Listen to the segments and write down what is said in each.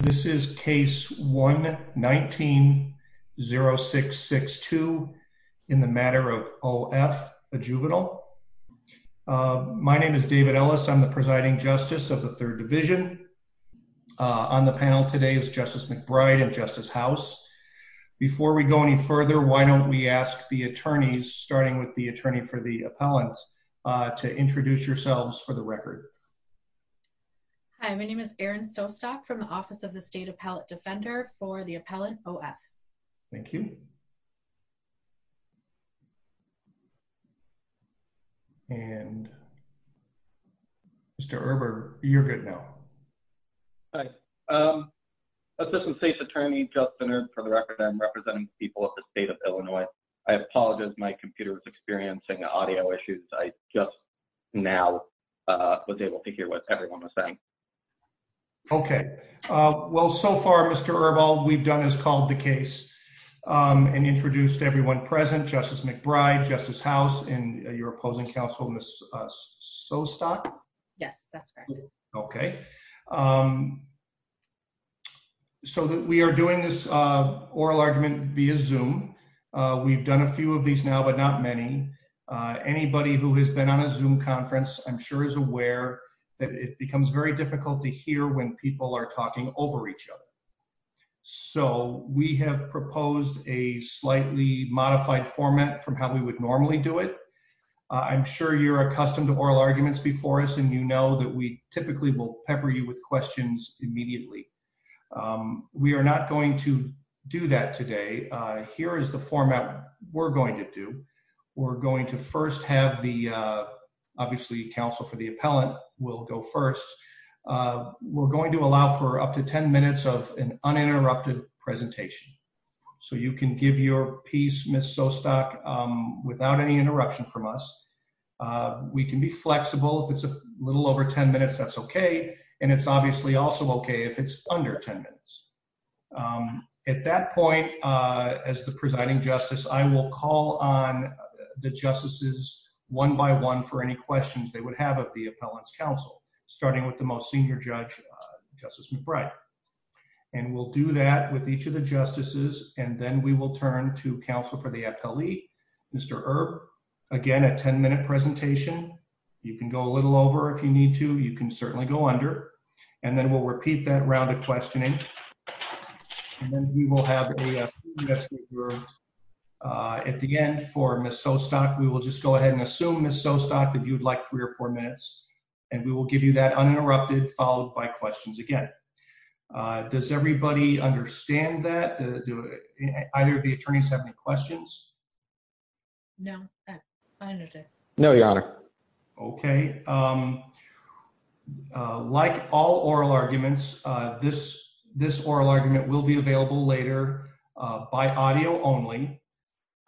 This is case 1-19-0662 in the matter of O.F., a juvenile. My name is David Ellis. I'm the presiding justice of the 3rd Division. On the panel today is Justice McBride and Justice House. Before we go any further, why don't we ask the attorneys, starting with the attorney for the appellant, to introduce yourselves for the record. Hi. My name is Erin Sostock from the Office of the State Appellant Defender for the appellant O.F. Thank you. And Mr. Erber, you're good now. Hi. Assistant State's Attorney Justin Erb, for the record, I'm representing the people of the state of Illinois. I apologize. My computer is experiencing audio issues. I just now was able to hear what everyone was saying. Okay. Well, so far, Mr. Erb, all we've done is called the case and introduced everyone present, Justice McBride, Justice House, and your opposing counsel, Ms. Sostock? Yes, that's correct. Okay. So, we are doing this oral argument via Zoom. We've done a few of these now, but not many. Anybody who has been on a Zoom conference, I'm sure, is aware that it becomes very difficult to hear when people are talking over each other. So, we have proposed a slightly modified format from how we would normally do it. I'm sure you're accustomed to oral arguments before us, and you know that we typically will pepper you with questions immediately. We are not going to do that today. Here is the format we're going to do. We're going to first have the, obviously, counsel for the appellant will go first. We're going to allow for up to 10 minutes of an uninterrupted presentation. So, you can give your piece, Ms. Sostock, without any interruption from us. We can be flexible. If it's a little over 10 minutes, that's okay, and it's obviously also okay if it's under 10 minutes. At that point, as the presiding justice, I will call on the justices one by one for any questions they would have of the appellant's counsel, starting with the most senior judge, Justice McBride. And we'll do that with each of the justices, and then we will turn to counsel for the appellee, Mr. Erb. Again, a 10-minute presentation. You can go a little over if you need to. You can certainly go under. And then we'll repeat that round of questioning, and then we will have a few minutes reserved. At the end, for Ms. Sostock, we will just go ahead and assume, Ms. Sostock, that you'd like three or four minutes, and we will give you that uninterrupted, followed by questions again. Does everybody understand that? Do either of the attorneys have any questions? No. I understand. No, Your Honor. Okay. All right. Like all oral arguments, this oral argument will be available later by audio only,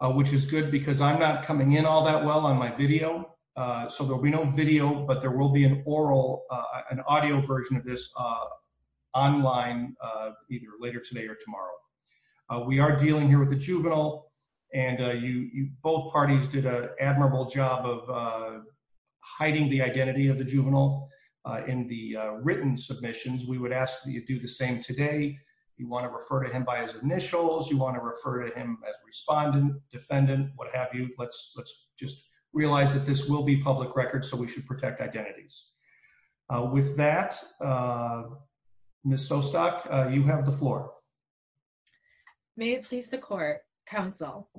which is good because I'm not coming in all that well on my video, so there will be no video, but there will be an audio version of this online either later today or tomorrow. We are dealing here with a juvenile, and both parties did an admirable job of hiding the identity of the juvenile in the written submissions. We would ask that you do the same today. You want to refer to him by his initials. You want to refer to him as respondent, defendant, what have you. Let's just realize that this will be public record, so we should protect identities. With that, Ms. Sostock, you have the floor. May it please the Court, Counsel.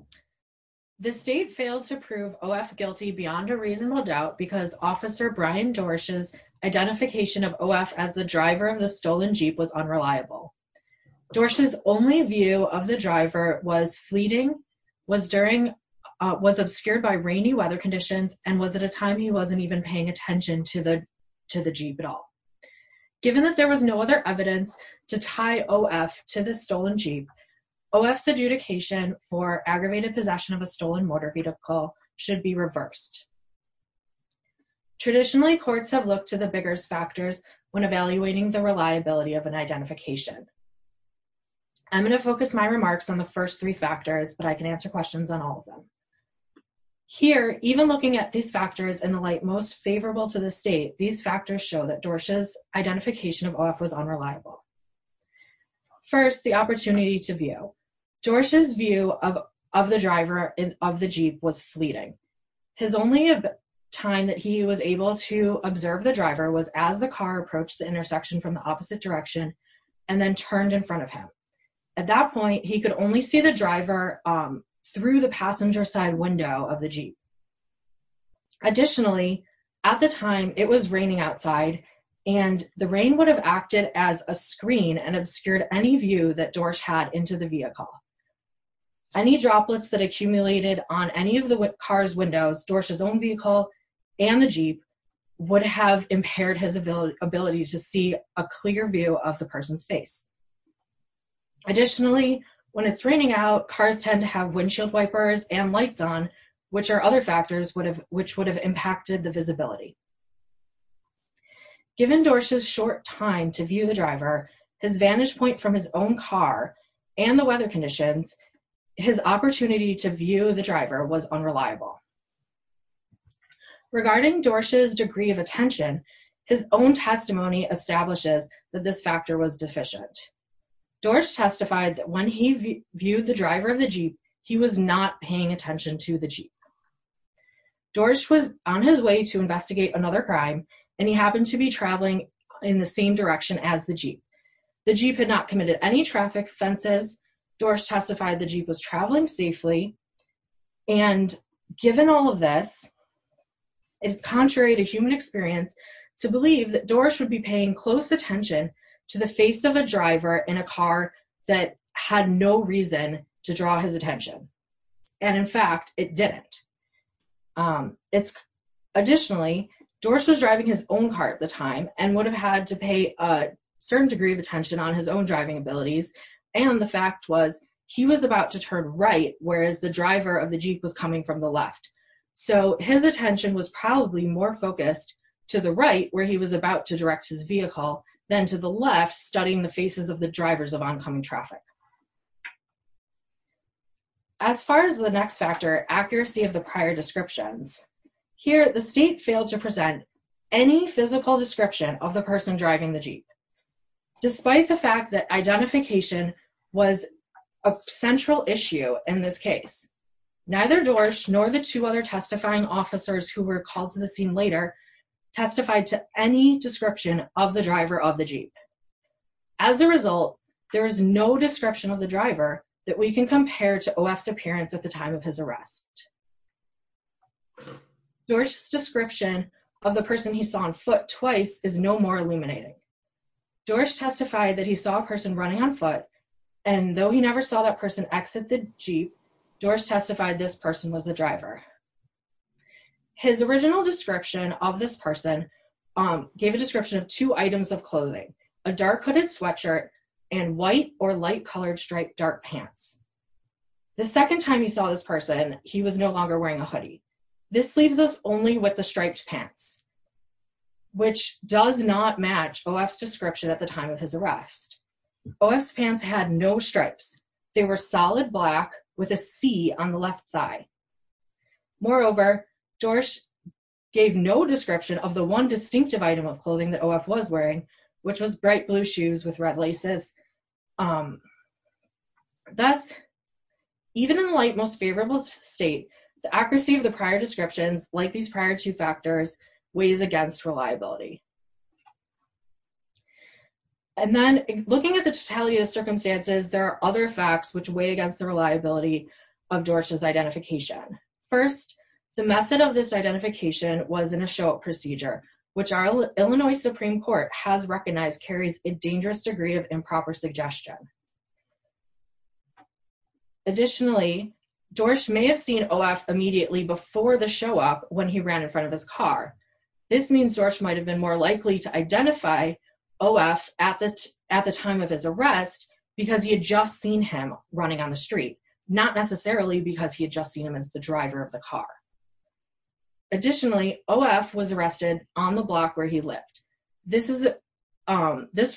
The State failed to prove O.F. guilty beyond a reasonable doubt because Officer Brian Dorsch's identification of O.F. as the driver of the stolen Jeep was unreliable. Dorsch's only view of the driver was fleeting, was obscured by rainy weather conditions, and was at a time he wasn't even paying attention to the Jeep at all. Given that there was no other evidence to tie O.F. to the stolen Jeep, O.F.'s adjudication for aggravated possession of a stolen motor vehicle should be reversed. Traditionally, courts have looked to the biggest factors when evaluating the reliability of an identification. I'm going to focus my remarks on the first three factors, but I can answer questions on all of them. Here, even looking at these factors in the light most favorable to the State, these factors show that Dorsch's identification of O.F. was unreliable. First, the opportunity to view. Dorsch's view of the driver of the Jeep was fleeting. His only time that he was able to observe the driver was as the car approached the intersection from the opposite direction and then turned in front of him. At that point, he could only see the driver through the passenger side window of the Jeep. Additionally, at the time, it was raining outside, and the rain would have acted as a screen and obscured any view that Dorsch had into the vehicle. Any droplets that accumulated on any of the car's windows, Dorsch's own vehicle, and the Jeep would have impaired his ability to see a clear view of the person's face. Additionally, when it's raining out, cars tend to have windshield wipers and lights on, which are other factors which would have impacted the visibility. Given Dorsch's short time to view the driver, his vantage point from his own car, and the weather conditions, his opportunity to view the driver was unreliable. Regarding Dorsch's degree of attention, his own testimony establishes that this factor was deficient. Dorsch testified that when he viewed the driver of the Jeep, he was not paying attention to the Jeep. Dorsch was on his way to investigate another crime, and he happened to be traveling in the same direction as the Jeep. The Jeep had not committed any traffic offenses. Dorsch testified the Jeep was traveling safely. And given all of this, it is contrary to human experience to believe that Dorsch would be paying close attention to the face of a driver in a car that had no reason to draw his attention. And in fact, it didn't. Additionally, Dorsch was driving his own car at the time, and would have had to pay a certain degree of attention on his own driving abilities. And the fact was, he was about to turn right, whereas the driver of the Jeep was coming from the left. So his attention was probably more focused to the right, where he was about to direct his vehicle, than to the left, studying the faces of the drivers of oncoming traffic. As far as the next factor, accuracy of the prior descriptions, here the state failed to present any physical description of the person driving the Jeep. Despite the fact that identification was a central issue in this case, neither Dorsch nor the two other testifying officers who were called to the scene later testified to any description of the driver of the Jeep. As a result, there is no description of the driver that we can compare to OF's appearance at the time of his arrest. Dorsch's description of the person he saw on foot twice is no more illuminating. Dorsch testified that he saw a person running on foot, and though he never saw that person exit the Jeep, Dorsch testified this person was the driver. His original description of this person gave a description of two items of clothing, a dark hooded sweatshirt, and white or light colored striped dark pants. The second time he saw this person, he was no longer wearing a hoodie. This leaves us only with the striped pants, which does not match OF's description at the time of his arrest. OF's pants had no stripes. They were solid black with a C on the left thigh. Moreover, Dorsch gave no description of the one distinctive item of clothing that OF was wearing, which was bright blue shoes with red laces. Thus, even in the light most favorable state, the accuracy of the prior descriptions, like these prior two factors, weighs against reliability. And then, looking at the totality of the circumstances, there are other facts which weigh against the reliability of Dorsch's identification. First, the method of this identification was in a show-up procedure, which our Illinois Supreme Court has recognized carries a dangerous degree of improper suggestion. Additionally, Dorsch may have seen OF immediately before the show-up when he ran in front of his car. This means Dorsch might have been more likely to identify OF at the time of his arrest because he had just seen him running on the street, not necessarily because he had just seen him as the driver of the car. Additionally, OF was arrested on the block where he lived. This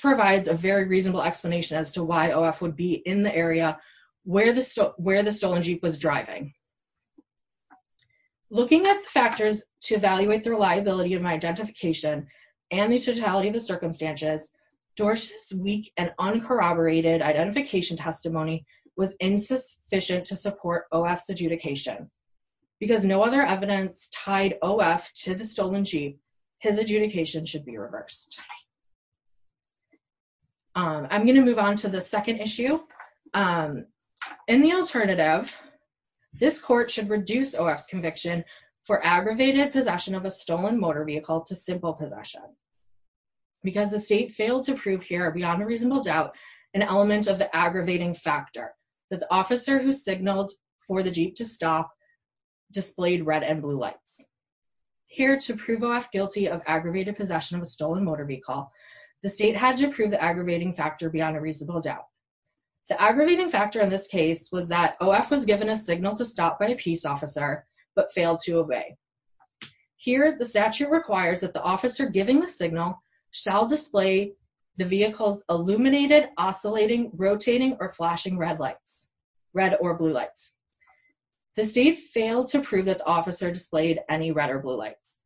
provides a very reasonable explanation as to why OF would be in the area where the stolen Jeep was driving. Looking at the factors to evaluate the reliability of my identification and the totality of the testimony was insufficient to support OF's adjudication. Because no other evidence tied OF to the stolen Jeep, his adjudication should be reversed. I'm going to move on to the second issue. In the alternative, this court should reduce OF's conviction for aggravated possession of a stolen motor vehicle to simple possession. Because the state failed to prove here, beyond a reasonable doubt, an element of the aggravating factor that the officer who signaled for the Jeep to stop displayed red and blue lights. Here, to prove OF guilty of aggravated possession of a stolen motor vehicle, the state had to prove the aggravating factor beyond a reasonable doubt. The aggravating factor in this case was that OF was given a signal to stop by a peace officer but failed to obey. Here, the statute requires that the officer giving the signal shall display the vehicle's illuminated, oscillating, rotating, or flashing red or blue lights. The state failed to prove that OF displayed any red or blue lights.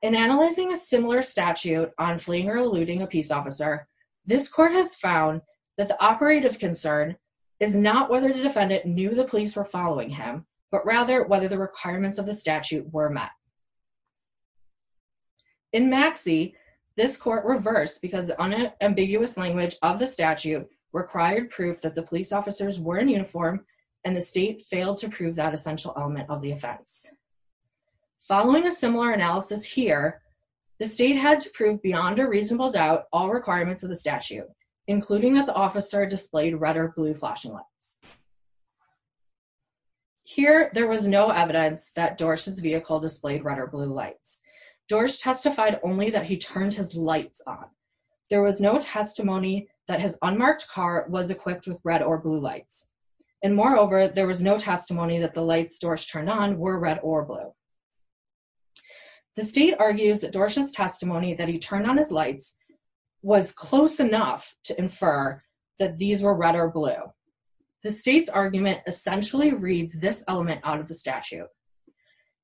In analyzing a similar statute on fleeing or eluding a peace officer, this court has found that the operative concern is not whether the defendant knew the police were following him, but rather whether the requirements of the statute were met. In Maxie, this court reversed because the unambiguous language of the statute required proof that the police officers were in uniform and the state failed to prove that essential element of the offense. Following a similar analysis here, the state had to prove beyond a reasonable doubt all requirements of the statute, including that the officer displayed red or blue flashing lights. Here, there was no evidence that Dorsch's vehicle displayed red or blue lights. Dorsch testified only that he turned his lights on. There was no testimony that his unmarked car was equipped with red or blue lights. And moreover, there was no testimony that the lights Dorsch turned on were red or blue. The state argues that Dorsch's testimony that he turned on his lights was close enough to infer that these were red or blue. The state's argument essentially reads this element out of the statute.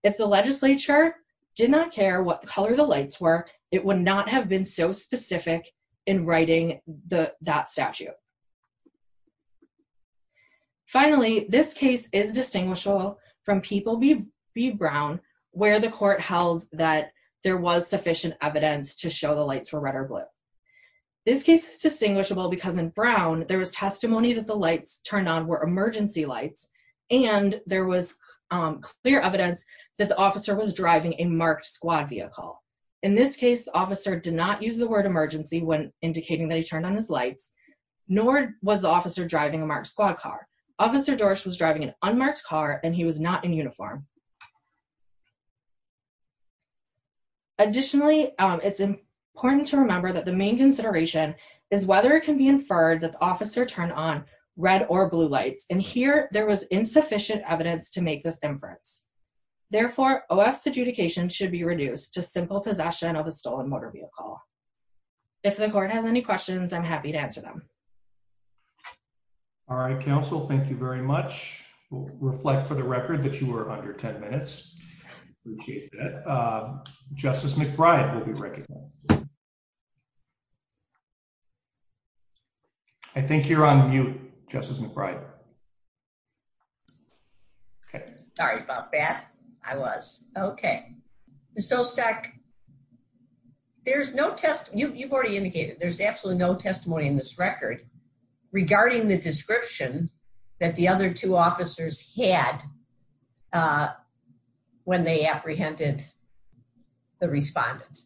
If the legislature did not care what color the lights were, it would not have been so specific in writing that statute. Finally, this case is distinguishable from People v. Brown, where the court held that there was sufficient evidence to show the lights were red or blue. This case is distinguishable because in Brown, there was testimony that the lights turned on were emergency lights, and there was clear evidence that the officer was driving a marked squad vehicle. In this case, the officer did not use the word emergency when indicating that he turned on his lights, nor was the officer driving a marked squad car. Officer Dorsch was driving an unmarked car, and he was not in uniform. Additionally, it's important to remember that the main consideration is whether it can be inferred that the officer turned on red or blue lights, and here there was insufficient evidence to make this inference. Therefore, OF's adjudication should be reduced to simple possession of a stolen motor vehicle. If the court has any questions, I'm happy to answer them. All right, counsel. Thank you very much. Reflect for the record that you were under. 10 minutes. Justice McBride will be recognized. I think you're on mute, Justice McBride. Okay. Sorry about that. I was. Okay. Ms. Olstek, there's no testimony. You've already indicated there's absolutely no testimony in this record regarding the when they apprehended the respondent.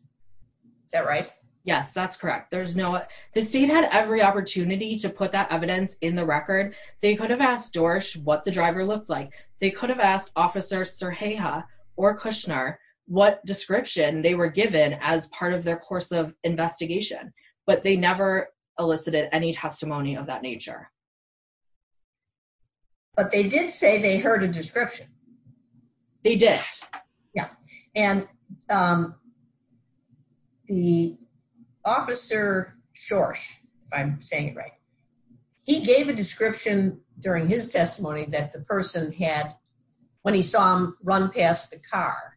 Is that right? Yes, that's correct. The state had every opportunity to put that evidence in the record. They could have asked Dorsch what the driver looked like. They could have asked Officer Serheja or Kushner what description they were given as part of their course of investigation, but they never elicited any testimony of that nature. But they did say they heard a description. They did, yeah. And the Officer Dorsch, if I'm saying it right, he gave a description during his testimony that the person had, when he saw him run past the car,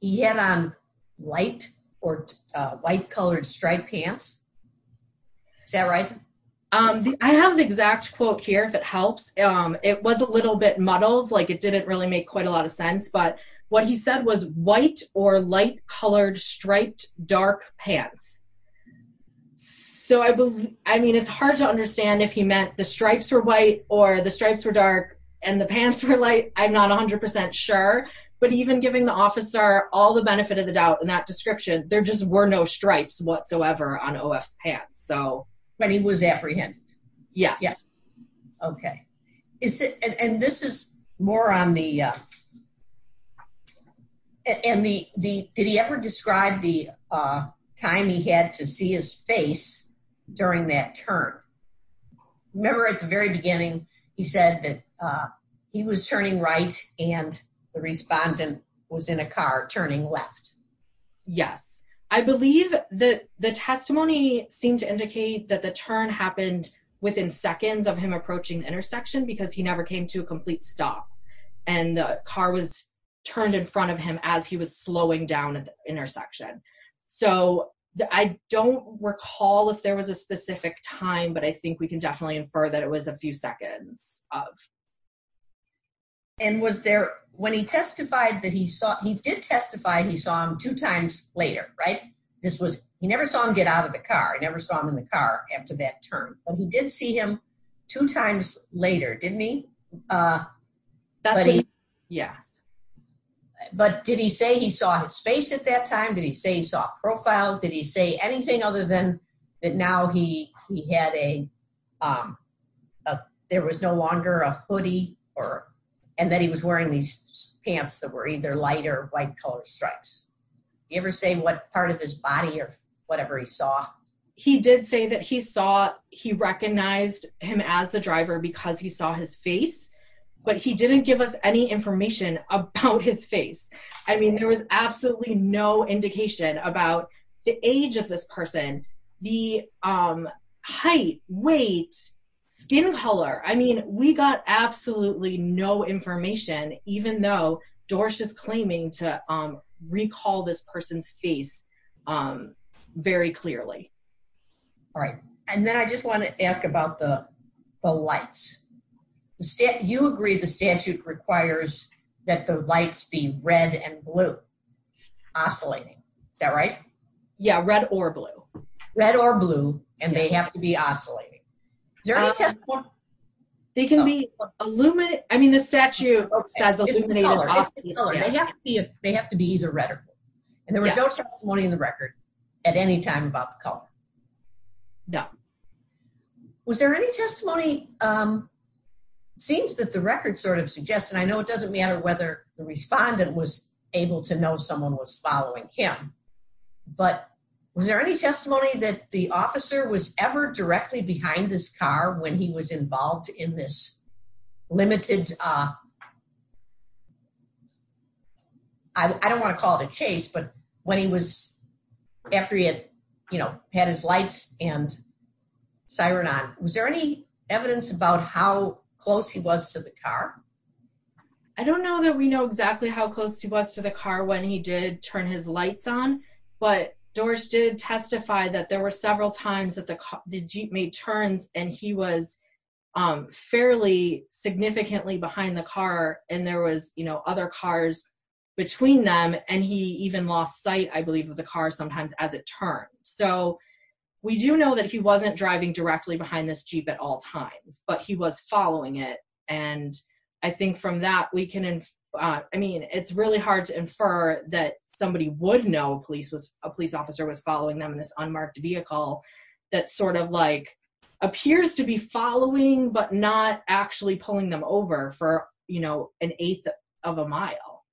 he had on white or white-colored striped pants. Is that right? I have the exact quote here, if it helps. It was a little bit muddled. Like, it didn't really make quite a lot of sense. But what he said was white or light-colored striped dark pants. So, I mean, it's hard to understand if he meant the stripes were white or the stripes were dark and the pants were light. I'm not 100% sure. But even giving the officer all the benefit of the doubt in that description, there just were no stripes whatsoever on OF's pants. So. But he was apprehended? Yes. Okay. And this is more on the, did he ever describe the time he had to see his face during that turn? Remember at the very beginning, he said that he was turning right and the respondent was in a car turning left. Yes. I believe that the testimony seemed to indicate that the turn happened within seconds of him approaching the intersection because he never came to a complete stop and the car was turned in front of him as he was slowing down at the intersection. So, I don't recall if there was a specific time, but I think we can definitely infer that it was a few seconds of. And was there, when he testified that he saw, he did testify he saw him two times later, right? This was, he never saw him get out of the car. I never saw him in the car after that turn. He did see him two times later, didn't he? Yes. But did he say he saw his face at that time? Did he say he saw a profile? Did he say anything other than that now he had a, there was no longer a hoodie or, and that he was wearing these pants that were either light or white colored stripes? Did he ever say what part of his body or whatever he saw? He did say that he saw, he recognized him as the driver because he saw his face, but he didn't give us any information about his face. I mean, there was absolutely no indication about the age of this person, the height, weight, skin color. I mean, we got absolutely no information, even though Dorsch is claiming to recall this person's face very clearly. All right. And then I just want to ask about the lights. You agree the statute requires that the lights be red and blue, oscillating. Is that right? Yeah. Red or blue. Red or blue. And they have to be oscillating. They can be illuminated. I mean, the statute says illuminated. They have to be, they have to be either red or blue. And there was no testimony in the record at any time about the color. No. Was there any testimony, it seems that the record sort of suggests, and I know it doesn't matter whether the respondent was able to know someone was following him, but was there any testimony that the officer was ever directly behind this car when he was involved in this limited, I don't want to call it a chase, but when he was, after he had, you know, had his lights and siren on, was there any evidence about how close he was to the car? I don't know that we know exactly how close he was to the car when he did turn his lights on, but Dorsch did testify that there were several times that the jeep made turns and he was fairly significantly behind the car. And there was, you know, other cars between them. And he even lost sight, I believe, of the car sometimes as it turned. So we do know that he wasn't driving directly behind this jeep at all times, but he was following it. And I think from that, we can, I mean, it's really hard to infer that somebody would know police was, a police officer was following them in this unmarked vehicle that sort of appears to be following, but not actually pulling them over for, you know, an eighth of a mile.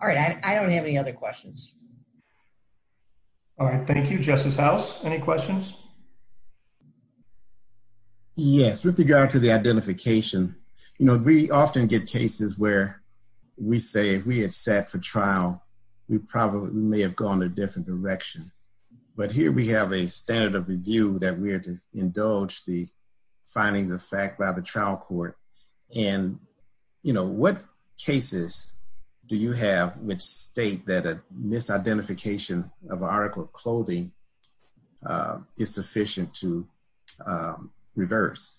All right, I don't have any other questions. All right, thank you. Justice House, any questions? Yes, with regard to the identification, you know, we often get cases where we say if we had sat for trial, we probably may have gone a different direction. But here we have a standard of review that we are to indulge the findings of fact by the trial court. And, you know, what cases do you have which state that a misidentification of article of clothing is sufficient to reverse?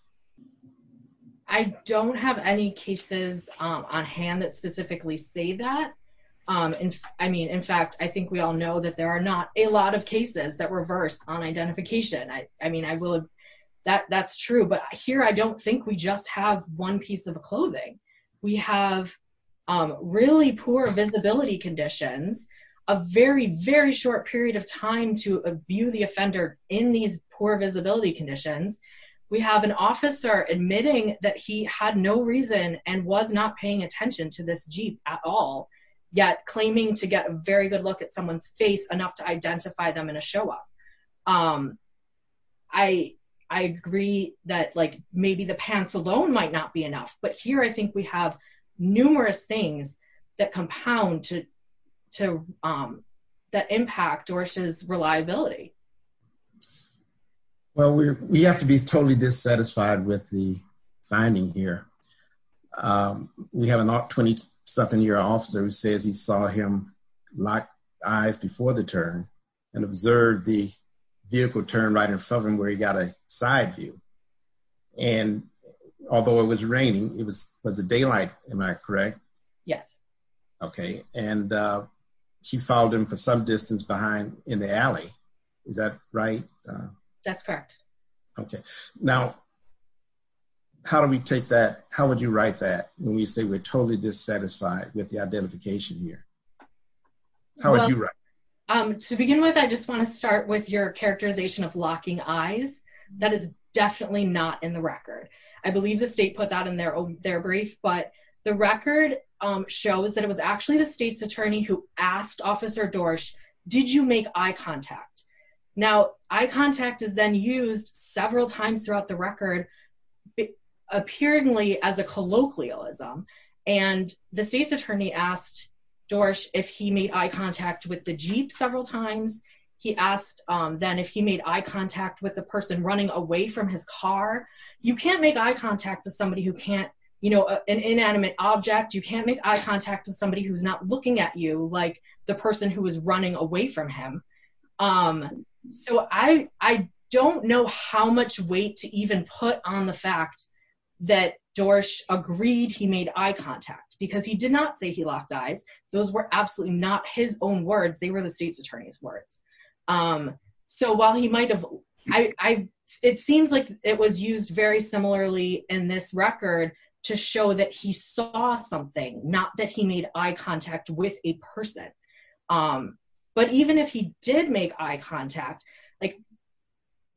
I don't have any cases on hand that specifically say that. I mean, in fact, I think we all know that there are not a lot of cases that reverse on identification. I mean, I will, that's true. But here, I don't think we just have one piece of clothing. We have really poor visibility conditions, a very, very short period of time to view the offender in these poor visibility conditions. We have an officer admitting that he had no reason and was not paying attention to this at all, yet claiming to get a very good look at someone's face enough to identify them in a show up. I agree that, like, maybe the pants alone might not be enough. But here, I think we have numerous things that compound to, that impact Dorsch's reliability. Well, we have to be totally dissatisfied with the finding here. We have a 20-something year old officer who says he saw him lock eyes before the turn and observed the vehicle turn right in front of him where he got a side view. And although it was raining, it was the daylight, am I correct? Yes. Okay. And he followed him for some distance behind in the alley. Is that right? That's correct. Okay. Now, how do we take that? How would you write that when we say we're totally dissatisfied with the identification here? How would you write that? To begin with, I just want to start with your characterization of locking eyes. That is definitely not in the record. I believe the state put that in their brief. But the record shows that it was actually the state's attorney who asked Officer Dorsch, did you make eye contact? Now, eye contact is then used several times throughout the record, appearingly as a colloquialism. And the state's attorney asked Dorsch if he made eye contact with the jeep several times. He asked then if he made eye contact with the person running away from his car. You can't make eye contact with somebody who can't, you know, an inanimate object. You can't make eye contact with somebody who's not looking at you like the person who was running away from him. So I don't know how much weight to even put on the fact that Dorsch agreed he made eye contact because he did not say he locked eyes. Those were absolutely not his own words. They were the state's attorney's words. It seems like it was used very similarly in this record to show that he saw something, not that he made eye contact with a person. But even if he did make eye contact, like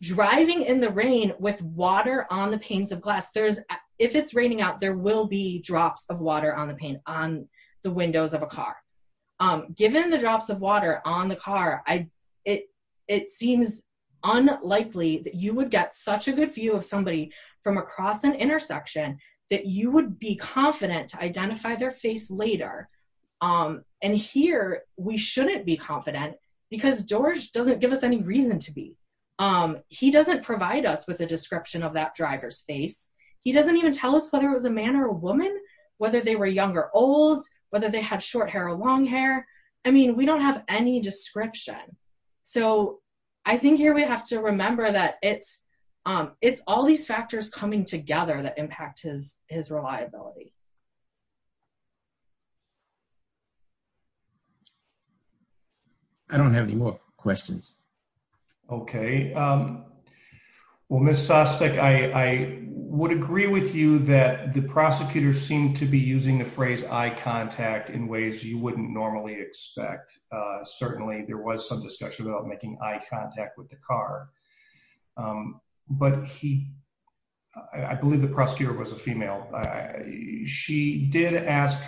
driving in the rain with water on the panes of glass, if it's raining out, there will be drops of water on the windows of a car. Given the drops of water on the car, it seems unlikely that you would get such a good view of somebody from across an intersection that you would be confident to identify their face later. And here, we shouldn't be confident because Dorsch doesn't give us any reason to be. He doesn't provide us with a description of that driver's face. He doesn't even tell us whether it was a man or a woman, whether they were young or old, whether they had short hair or long hair. I mean, we don't have any description. So I think here we have to remember that it's all these factors coming together that impact his reliability. I don't have any more questions. Okay. Well, Ms. Sostek, I would agree with you that the prosecutor seemed to be using the phrase eye contact in ways you wouldn't normally expect. Certainly, there was some discussion about making eye contact with the car. But he, I believe the prosecutor was a female. She did ask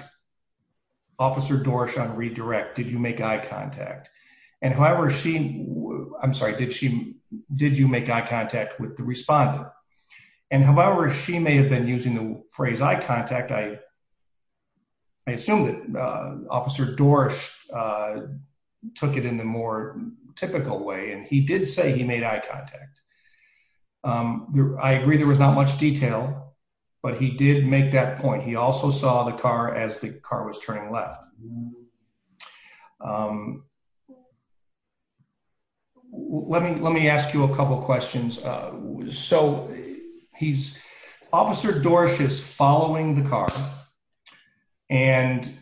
Officer Dorsch on redirect, did you make eye contact? And however she, I'm sorry, did you make eye contact with the respondent? And however she may have been using the phrase eye contact, I assume that Officer Dorsch took it in the more typical way. And he did say he made eye contact. I agree there was not much detail, but he did make that point. He also saw the car as the car was turning left. Let me ask you a couple of questions. So he's, Officer Dorsch is following the car. And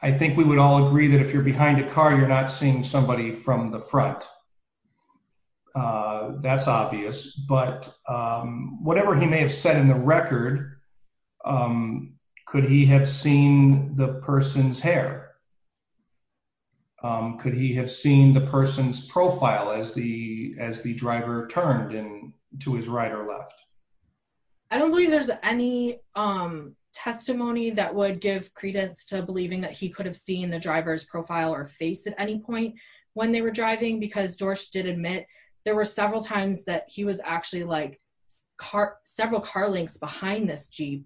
I think we would all agree that if you're behind a car, you're not seeing somebody from the front. That's obvious, but whatever he may have said in the record, could he have seen the person's hair? Could he have seen the person's profile as the driver turned to his right or left? I don't believe there's any testimony that would give credence to believing that he could have seen the driver's profile or face at any point when they were driving because they did admit there were several times that he was actually like several car lengths behind this Jeep.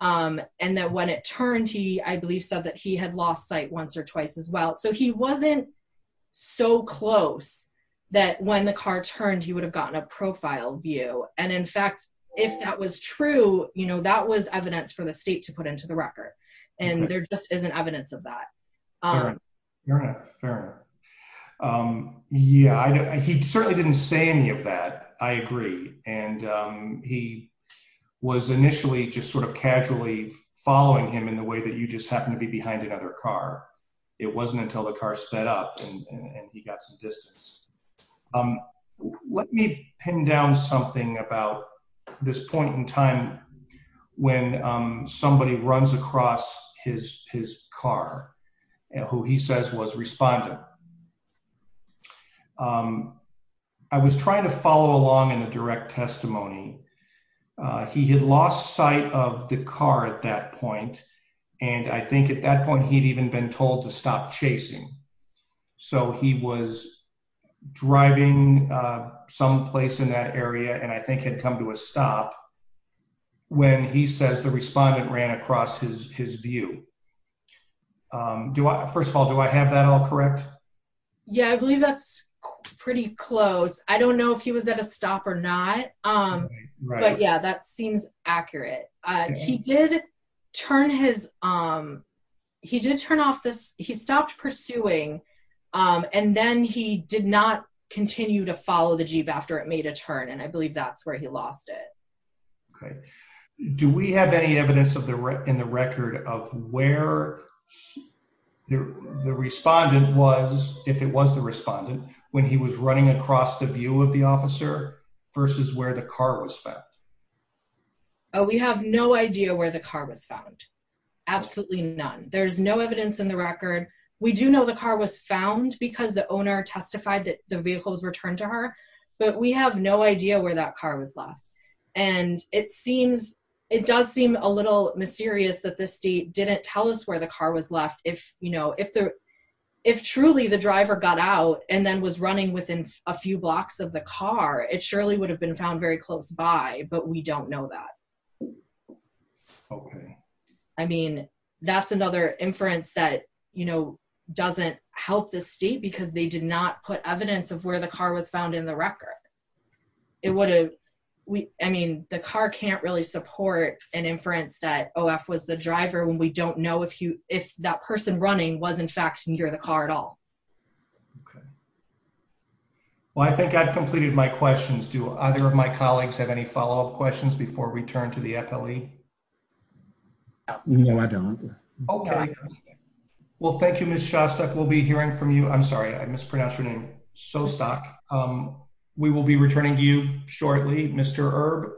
And that when it turned, he, I believe, said that he had lost sight once or twice as well. So he wasn't so close that when the car turned, he would have gotten a profile view. And in fact, if that was true, you know, that was evidence for the state to put into the record. And there just isn't evidence of that. You're not fair. Yeah, he certainly didn't say any of that. I agree. And he was initially just sort of casually following him in the way that you just happened to be behind another car. It wasn't until the car sped up and he got some distance. Let me pin down something about this point in time when somebody runs across his car and who he says was responding. I was trying to follow along in the direct testimony. He had lost sight of the car at that point. And I think at that point, he'd even been told to stop chasing. So he was driving some place in that area and I think had come to a stop when he says the respondent ran across his view. First of all, do I have that all correct? Yeah, I believe that's pretty close. I don't know if he was at a stop or not. But yeah, that seems accurate. He did turn off this. He stopped pursuing and then he did not continue to follow the jeep after it made a turn. And I believe that's where he lost it. Okay. Do we have any evidence in the record of where the respondent was, if it was the respondent, when he was running across the view of the officer versus where the car was found? We have no idea where the car was found. Absolutely none. There's no evidence in the record. We do know the car was found because the owner testified that the vehicle was returned to her. But we have no idea where that car was left. And it does seem a little mysterious that the state didn't tell us where the car was left. If truly the driver got out and then was running within a few blocks of the car, it surely would have been found very close by, but we don't know that. Okay. I mean, that's another inference that doesn't help the state because they did not put evidence of where the car was found in the record. It would have, I mean, the car can't really support an inference that OF was the driver when we don't know if that person running was in fact near the car at all. Okay. Well, I think I've completed my questions. Do either of my colleagues have any follow-up questions before we turn to the FLE? No, I don't. Okay. Well, thank you, Ms. Shostak. We'll be hearing from you. I'm sorry, I mispronounced your name, Shostak. We will be returning to you shortly, Mr. Erb.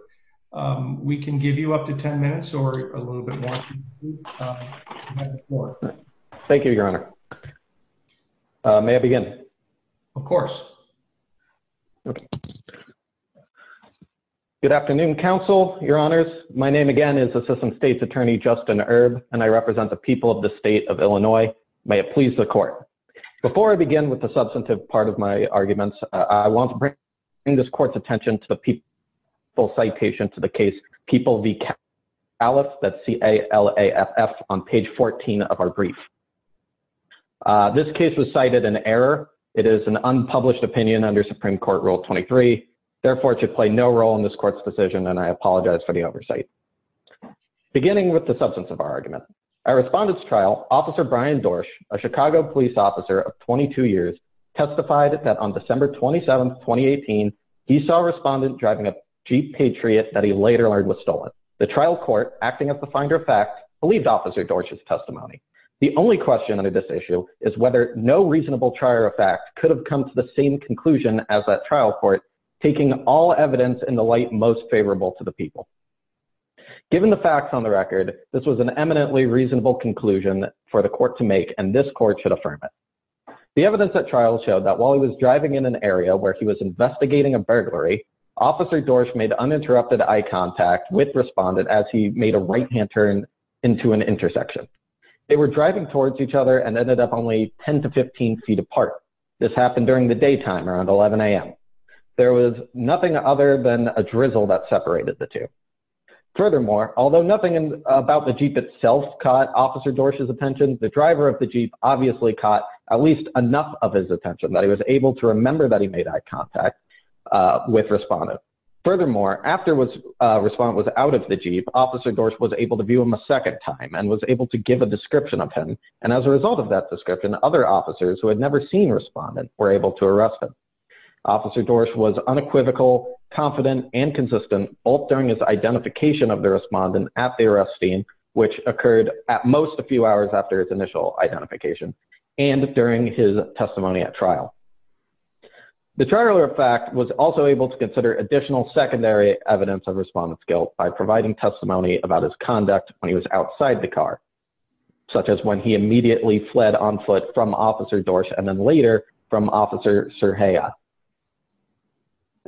We can give you up to 10 minutes or a little bit more. Thank you, your honor. May I begin? Of course. Okay. Good afternoon, counsel, your honors. My name again is Assistant State's Attorney Justin Erb, and I represent the people of the state of Illinois. May it please the court. Before I begin with the substantive part of my arguments, I want to bring this court's attention to the people citation to the case, People v. Califf, that's C-A-L-A-F-F, on page 14 of our brief. This case was cited in error. It is an unpublished opinion under Supreme Court Rule 23. Therefore, it should play no role in this court's decision, and I apologize for the oversight. Beginning with the substance of our argument, our respondent's trial, Officer Brian Dorsch, a Chicago police officer of 22 years, testified that on December 27, 2018, he saw a respondent driving a Jeep Patriot that he later learned was stolen. The trial court, acting as the finder of fact, believed Officer Dorsch's testimony. The only question under this issue is whether no reasonable trier of fact could have come to the same conclusion as that trial court, taking all evidence in the light most favorable to the people. Given the facts on the record, this was an eminently reasonable conclusion for the court to make, and this court should affirm it. The evidence at trial showed that while he was driving in an area where he was investigating a burglary, Officer Dorsch made uninterrupted eye contact with respondent as he made a right-hand turn into an intersection. They were driving towards each other and ended up only 10 to 15 feet apart. This happened during the daytime, around 11 a.m. There was nothing other than a drizzle that separated the two. Furthermore, although nothing about the Jeep itself caught Officer Dorsch's attention, the driver of the Jeep obviously caught at least enough of his attention that he was able to remember that he made eye contact with respondent. Furthermore, after respondent was out of the Jeep, Officer Dorsch was able to view him a second time and was able to give a description of him, and as a result of that description, other officers who had never seen respondent were able to arrest him. Officer Dorsch was unequivocal, confident, and consistent, both during his identification of the respondent at the arrest scene, which occurred at most a few hours after his initial identification, and during his testimony at trial. The trial, in fact, was also able to consider additional secondary evidence of respondent's guilt by providing testimony about his conduct when he was outside the car, such as when he immediately fled on foot from Officer Dorsch and then later from Officer Cerjea.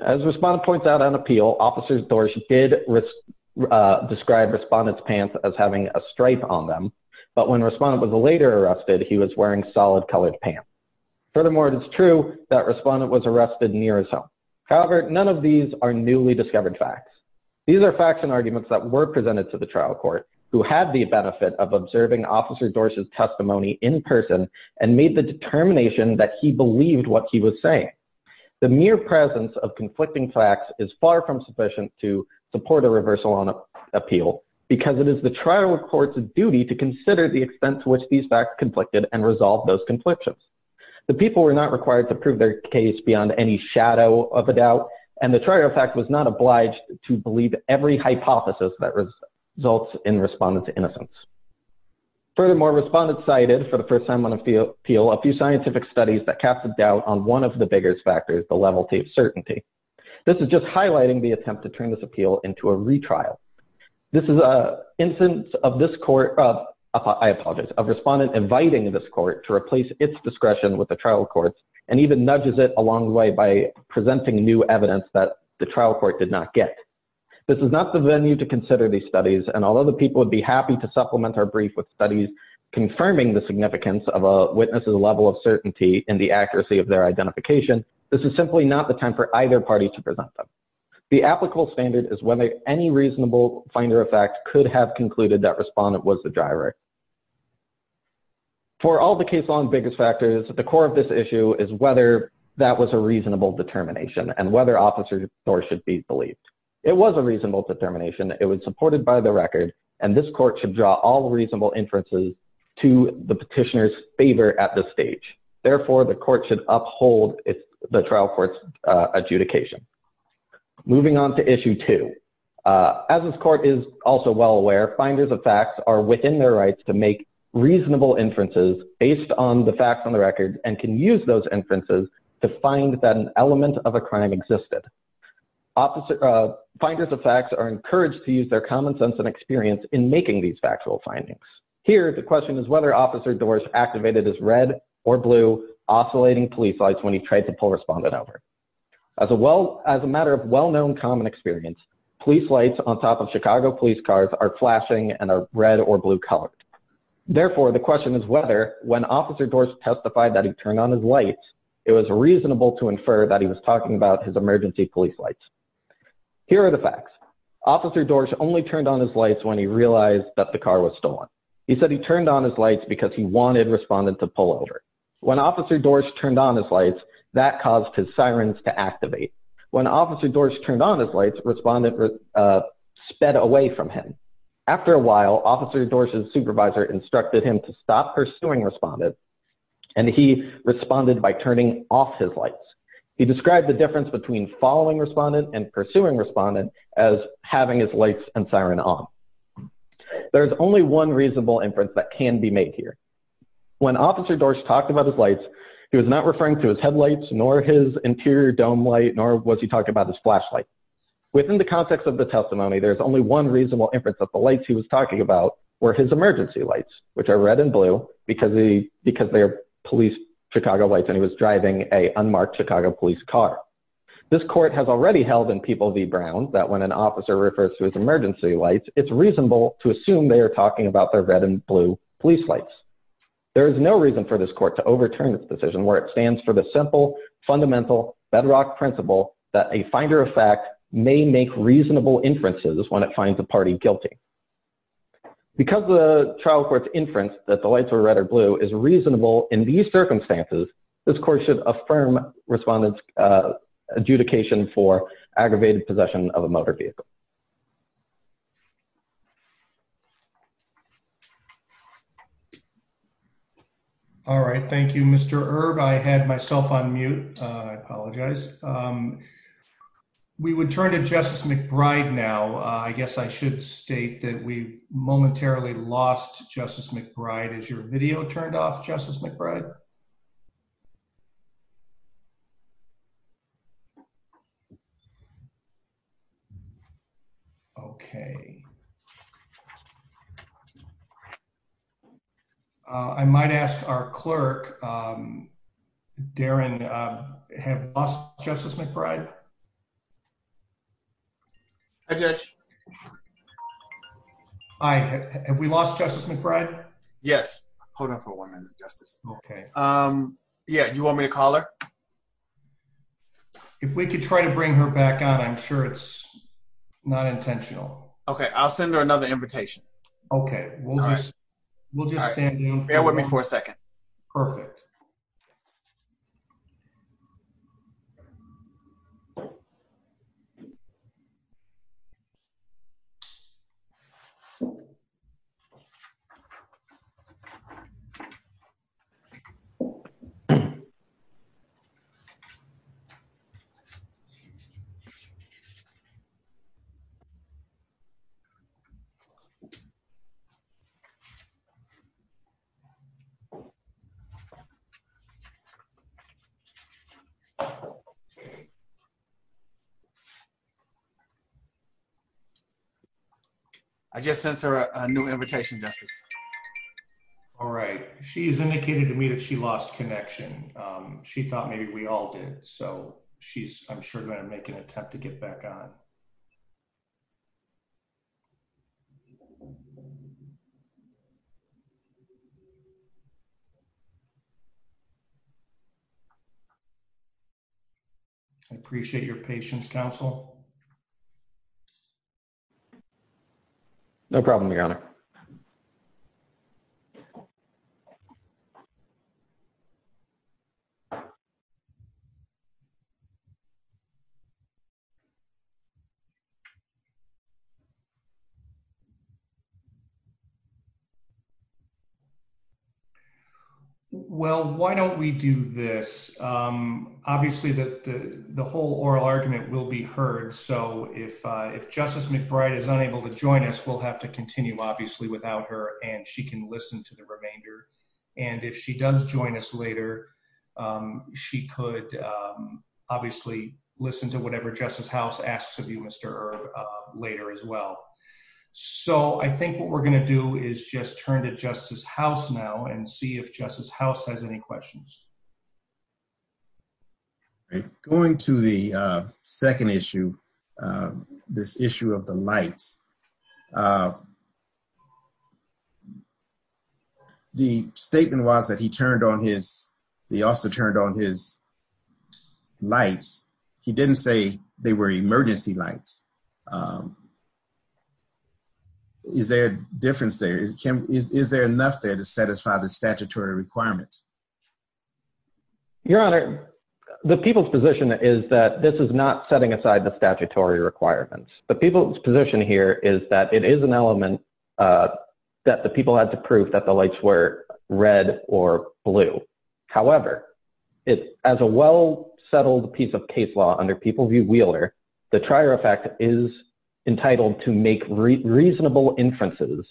As respondent points out on appeal, Officer Dorsch did describe respondent's pants as having a stripe on them, but when respondent was later arrested, he was wearing solid colored pants. Furthermore, it is true that respondent was arrested near his home. However, none of these are newly discovered facts. These are facts and arguments that were presented to the trial court who had the benefit of observing Officer Dorsch's testimony in person and made the determination that he believed what he was saying. The mere presence of conflicting facts is far from sufficient to support a reversal on appeal because it is the trial court's duty to consider the extent to which these facts conflicted and resolve those conflictions. The people were not required to prove their case beyond any shadow of a doubt, and the trial fact was not obliged to believe every hypothesis that results in respondent's innocence. Furthermore, respondents cited, for the first time on appeal, a few scientific studies that cast a doubt on one of the biggest factors, the level of certainty. This is just highlighting the attempt to turn this appeal into a retrial. This is an instance of this court, I apologize, of respondent inviting this court to replace its discretion with the trial court's and even nudges it along the way by presenting new evidence that the trial court did not get. This is not the venue to consider these studies, and although the people would be happy to supplement our brief with studies confirming the significance of a witness's level of certainty and the accuracy of their identification, this is simply not the time for either party to present them. The applicable standard is whether any reasonable finder of fact could have concluded that respondent was the driver. For all the case law and biggest factors, the core of this issue is whether that was a reasonable determination and whether officer's authority should be believed. It was a reasonable determination. It was supported by the record, and this court should draw all reasonable inferences to the petitioner's favor at this stage. Therefore, the court should uphold the trial court's adjudication. Moving on to issue two. As this court is also well aware, finders of facts are within their rights to make reasonable inferences based on the facts on the record and can use those inferences to find that an element of a crime existed. Officer finders of facts are encouraged to use their common sense and experience in making these factual findings. Here, the question is whether Officer Dorse activated his red or blue oscillating police lights when he tried to pull respondent over. As a matter of well-known common experience, police lights on top of Chicago police cars are flashing and are red or blue colored. Therefore, the question is whether when Officer Dorse testified that he turned on his lights, it was reasonable to infer that he was talking about his emergency police lights. Here are the facts. Officer Dorse only turned on his lights when he realized that the car was stolen. He said he turned on his lights because he wanted respondent to pull over. When Officer Dorse turned on his lights, that caused his sirens to activate. When Officer Dorse turned on his lights, respondent sped away from him. After a while, Officer Dorse's supervisor instructed him to stop pursuing respondent, and he responded by turning off his lights. He described the difference between following respondent and pursuing respondent as having his lights and siren on. There's only one reasonable inference that can be made here. When Officer Dorse talked about his lights, he was not referring to his headlights, nor his interior dome light, nor was he talking about his flashlight. Within the context of the testimony, there's only one reasonable inference that the lights he was talking about were his emergency lights, which are red and blue, because they are police Chicago lights, and he was driving a unmarked Chicago police car. This court has already held in People v. Brown that when an officer refers to his emergency lights, it's reasonable to assume they are talking about their red and blue police lights. There is no reason for this court to overturn this decision where it stands for the simple, fundamental, bedrock principle that a finder of fact may make reasonable inferences when it finds a party guilty. Because the trial court's inference that the lights were red or blue is reasonable in these circumstances, this court should affirm respondent's adjudication for aggravated possession of a motor vehicle. All right. Thank you, Mr. Erb. I had myself on mute. I apologize. We would turn to Justice McBride now. I guess I should state that we've momentarily lost Justice McBride. Is your video turned off, Justice McBride? Okay. I might ask our clerk, Darren, have you lost Justice McBride? Hi, Judge. Hi. Have we lost Justice McBride? Yes. Hold on for one minute, Justice. Okay. Yeah. You want me to call her? If we could try to bring her back on, I'm sure it's not intentional. Okay. I'll send her another invitation. Okay. We'll just stand in for a moment. Bear with me for a second. Perfect. Okay. I just sent her a new invitation, Justice. All right. She has indicated to me that she lost connection. She thought maybe we all did. So she's, I'm sure, going to make an attempt to get back on. Okay. I appreciate your patience, counsel. Okay. Well, why don't we do this? Obviously, the whole oral argument will be heard. So if Justice McBride is unable to join us, we'll have to continue, obviously, without her. And she can listen to the remainder. And if she does join us later, she could obviously listen to whatever Justice House asks of you, Mr. Earp, later as well. So I think what we're going to do is just turn to Justice House now and see if Justice House has any questions. Going to the second issue, this issue of the lights. The statement was that he turned on his, the officer turned on his lights. He didn't say they were emergency lights. Is there a difference there? Is there enough there to satisfy the statutory requirements? Your Honor, the people's position is that this is not setting aside the statutory requirements. The people's position here is that it is an element that the people had to prove that the lights were red or blue. However, as a well-settled piece of case law under People View Wheeler, the trier effect is entitled to make reasonable inferences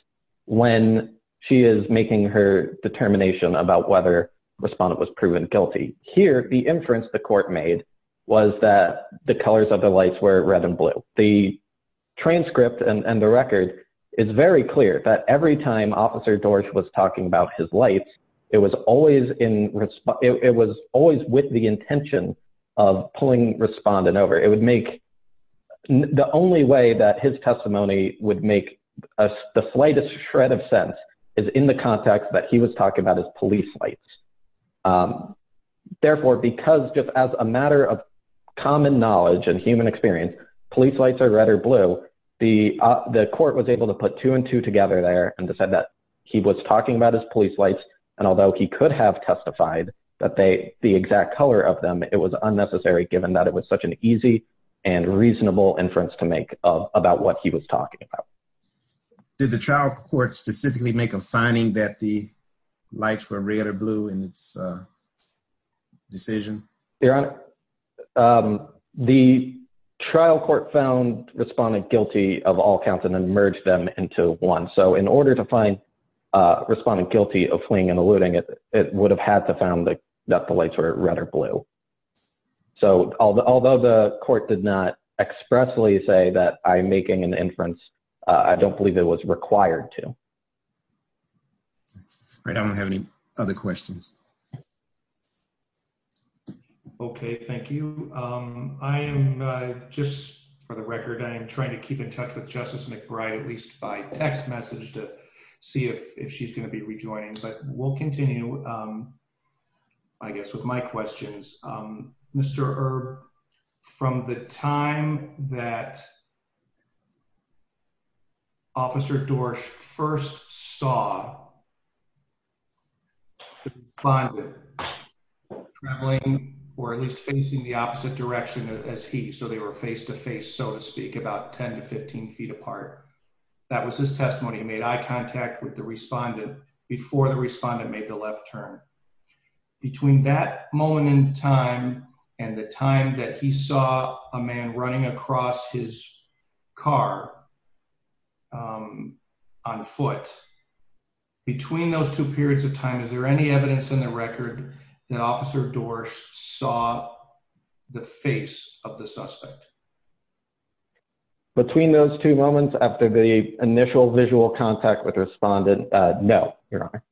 when she is making her determination about whether the respondent was proven guilty. Here, the inference the court made was that the colors of the lights were red and blue. The transcript and the record is very clear that every time Officer Dorsch was talking about his lights, it was always with the intention of pulling respondent over. It would make, the only way that his testimony would make the slightest shred of sense is in the context that he was talking about his police lights. Therefore, because just as a matter of common knowledge and human experience, police lights are red or blue, the court was able to put two and two together there and decide that he was talking about his police lights. And although he could have testified that the exact color of them, it was unnecessary given that it was such an easy and reasonable inference to make about what he was talking about. Did the trial court specifically make a finding that the lights were red or blue in its decision? Your Honor, the trial court found respondent guilty of all counts and then merged them into one. So in order to find respondent guilty of fleeing and eluding, it would have had to found that the lights were red or blue. So although the court did not expressly say that I'm making an inference, I don't believe it was required to. All right, I don't have any other questions. Okay, thank you. I am just, for the record, I am trying to keep in touch with Justice McBride, at least by text message to see if she's going to be rejoining. But we'll continue, I guess, with my questions. Mr. Erb, from the time that Officer Dorsch first saw the respondent traveling, or at least facing the opposite direction as he, so they were face to face, so to speak, about 10 to 15 feet apart. That was his testimony. He made eye contact with the respondent before the respondent made the left turn. Between that moment in time and the time that he saw a man running across his car, um, on foot, between those two periods of time, is there any evidence in the record that Officer Dorsch saw the face of the suspect? Between those two moments after the initial visual contact with the respondent, no, Your Honor.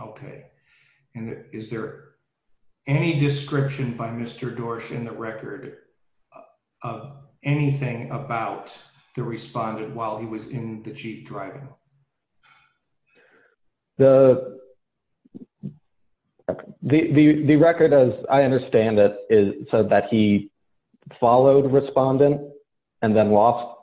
Okay, and is there any description by Mr. Dorsch in the record of anything about the respondent while he was in the Jeep driving? The, the record, as I understand it, is, said that he followed the respondent and then lost,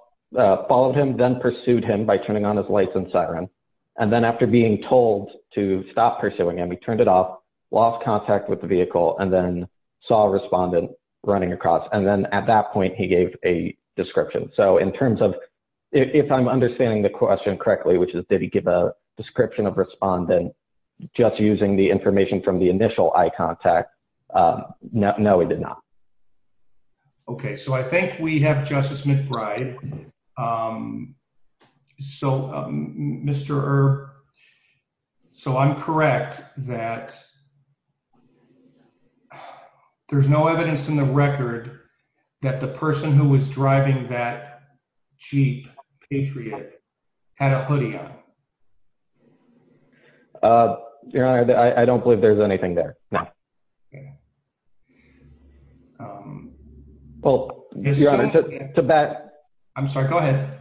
followed him, then pursued him by turning on his lights and siren. And then after being told to stop pursuing him, he turned it off, lost contact with the vehicle, and then saw a respondent running across. And then at that point, he gave a description. So in terms of, if I'm understanding the question correctly, which is, did he give a description of respondent just using the information from the initial eye contact? No, he did not. Okay, so I think we have Justice McBride. So, Mr. Erb, so I'm correct that there's no evidence in the record that the person who was driving that Jeep, Patriot, had a hoodie on. Your Honor, I don't believe there's anything there, no. Okay. Well, Your Honor, to back... I'm sorry, go ahead.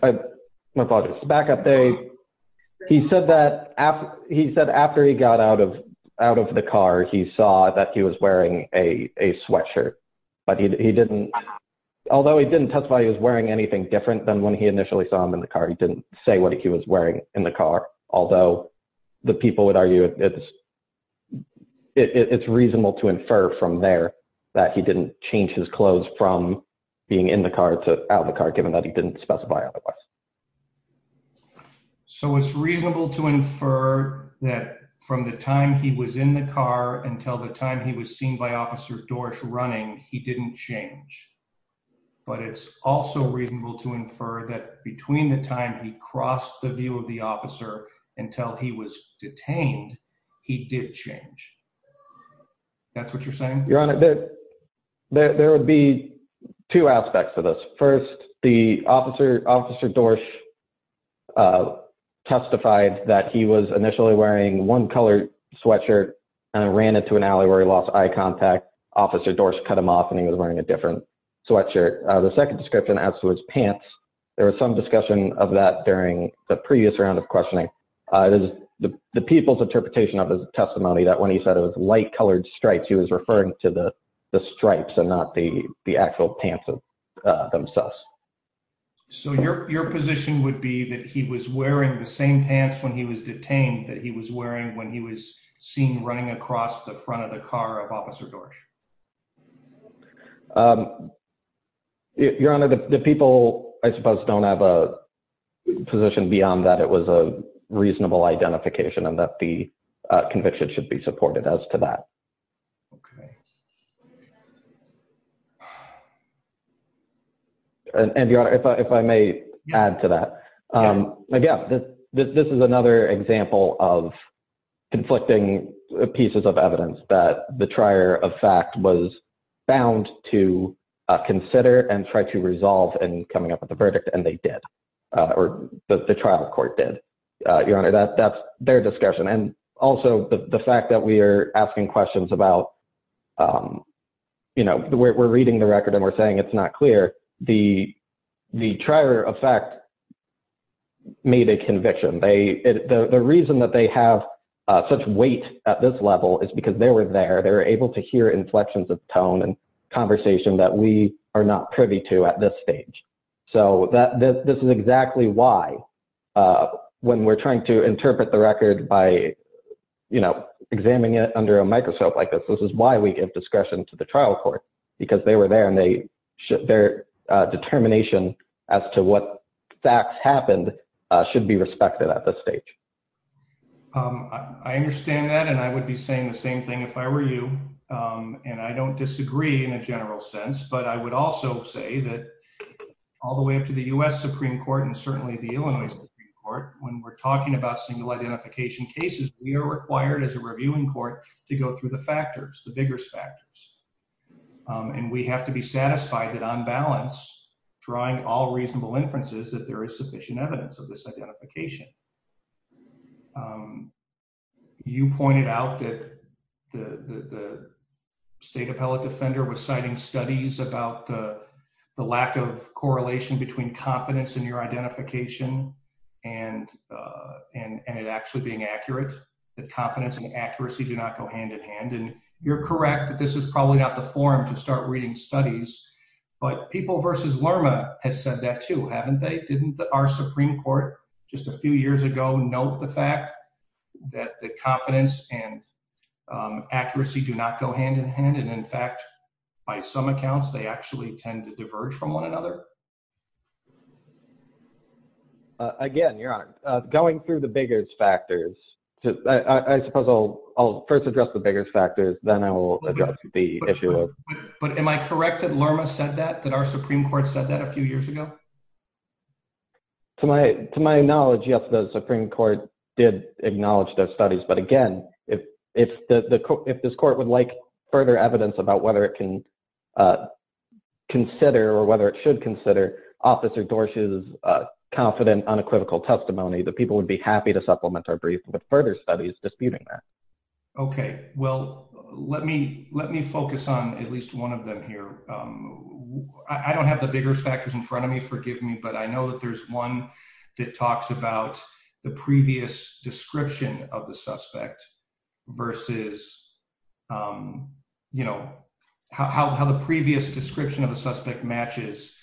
My apologies. Back up there, he said that after, he said after he got out of, out of the car, he saw that he was wearing a, a sweatshirt. But he, he didn't, although he didn't testify he was wearing anything different than when he initially saw him in the car, he didn't say what he was wearing in the car. Although the people would argue it's, it's reasonable to infer from there that he didn't change his clothes from being in the car to out of the car, given that he didn't specify otherwise. So it's reasonable to infer that from the time he was in the car until the time he was seen by Officer Dorsch running, he didn't change. But it's also reasonable to infer that between the time he crossed the view of the officer until he was detained, he did change. That's what you're saying? Your Honor, there, there would be two aspects to this. First, the Officer, Officer Dorsch testified that he was initially wearing one color sweatshirt and ran into an alley where he lost eye contact. Officer Dorsch cut him off and he was wearing a different sweatshirt. The second description adds to his pants. There was some discussion of that during the previous round of questioning. It is the people's interpretation of his testimony that when he said it was light colored stripes, he was referring to the, the stripes and not the, the actual pants themselves. So your, your position would be that he was wearing the same pants when he was detained that he was wearing when he was seen running across the front of the car of Officer Dorsch? Um, Your Honor, the people, I suppose, don't have a position beyond that. It was a reasonable identification and that the conviction should be supported as to that. Okay. And Your Honor, if I, if I may add to that, um, again, this, this is another example of the trier of fact was bound to consider and try to resolve and coming up with a verdict and they did, uh, or the trial court did, uh, Your Honor, that that's their discussion. And also the fact that we are asking questions about, um, you know, we're reading the record and we're saying it's not clear the, the trier of fact made a conviction. They, the reason that they have such weight at this level is because they were there. They're able to hear inflections of tone and conversation that we are not privy to at this stage. So that this is exactly why, uh, when we're trying to interpret the record by, you know, examining it under a microscope like this, this is why we give discretion to the trial court because they were there and they should, their, uh, determination as to what facts happened, uh, should be respected at this stage. Um, I understand that. And I would be saying the same thing if I were you. Um, and I don't disagree in a general sense, but I would also say that all the way up to the U S Supreme court and certainly the Illinois Supreme court, when we're talking about single identification cases, we are required as a reviewing court to go through the factors, the vigorous factors. Um, and we have to be satisfied that on balance drawing all reasonable inferences that there is sufficient evidence of this identification. Um, you pointed out that the, the, the state appellate defender was citing studies about the, the lack of correlation between confidence in your identification and, uh, and, and it actually being accurate, that confidence and accuracy do not go hand in hand. And you're correct that this is probably not the forum to start reading studies, but people versus Lerma has said that too. Haven't they? Our Supreme court just a few years ago, note the fact that the confidence and, um, accuracy do not go hand in hand. And in fact, by some accounts, they actually tend to diverge from one another. Again, you're not going through the biggest factors. I suppose I'll, I'll first address the biggest factors. Then I will address the issue. But am I correct that Lerma said that, that our Supreme court said that a few years ago? To my, to my knowledge, yes, the Supreme court did acknowledge those studies. But again, if it's the, the, if this court would like further evidence about whether it can, uh, consider or whether it should consider officer Dorsey's, uh, confident unequivocal testimony, the people would be happy to supplement our brief, but further studies disputing that. Okay. Well, let me, let me focus on at least one of them here. Um, I don't have the biggest factors in front of me, forgive me, but I know that there's one that talks about the previous description of the suspect versus, um, you know, how, how the previous description of the suspect matches,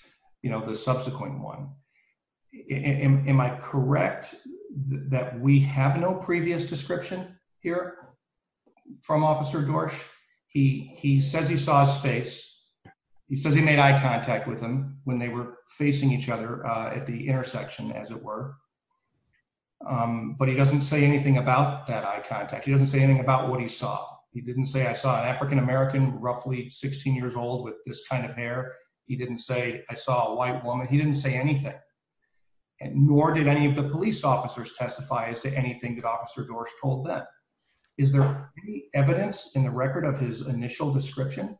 you know, the subsequent one. Am I correct that we have no previous description here from officer Dorsey? He, he says he saw his face. He says he made eye contact with him when they were facing each other at the intersection as it were. Um, but he doesn't say anything about that eye contact. He doesn't say anything about what he saw. He didn't say, I saw an African American, roughly 16 years old with this kind of hair. He didn't say I saw a white woman. He didn't say anything. Nor did any of the police officers testify as to anything that officer Dorsey told them. Is there any evidence in the record of his initial description?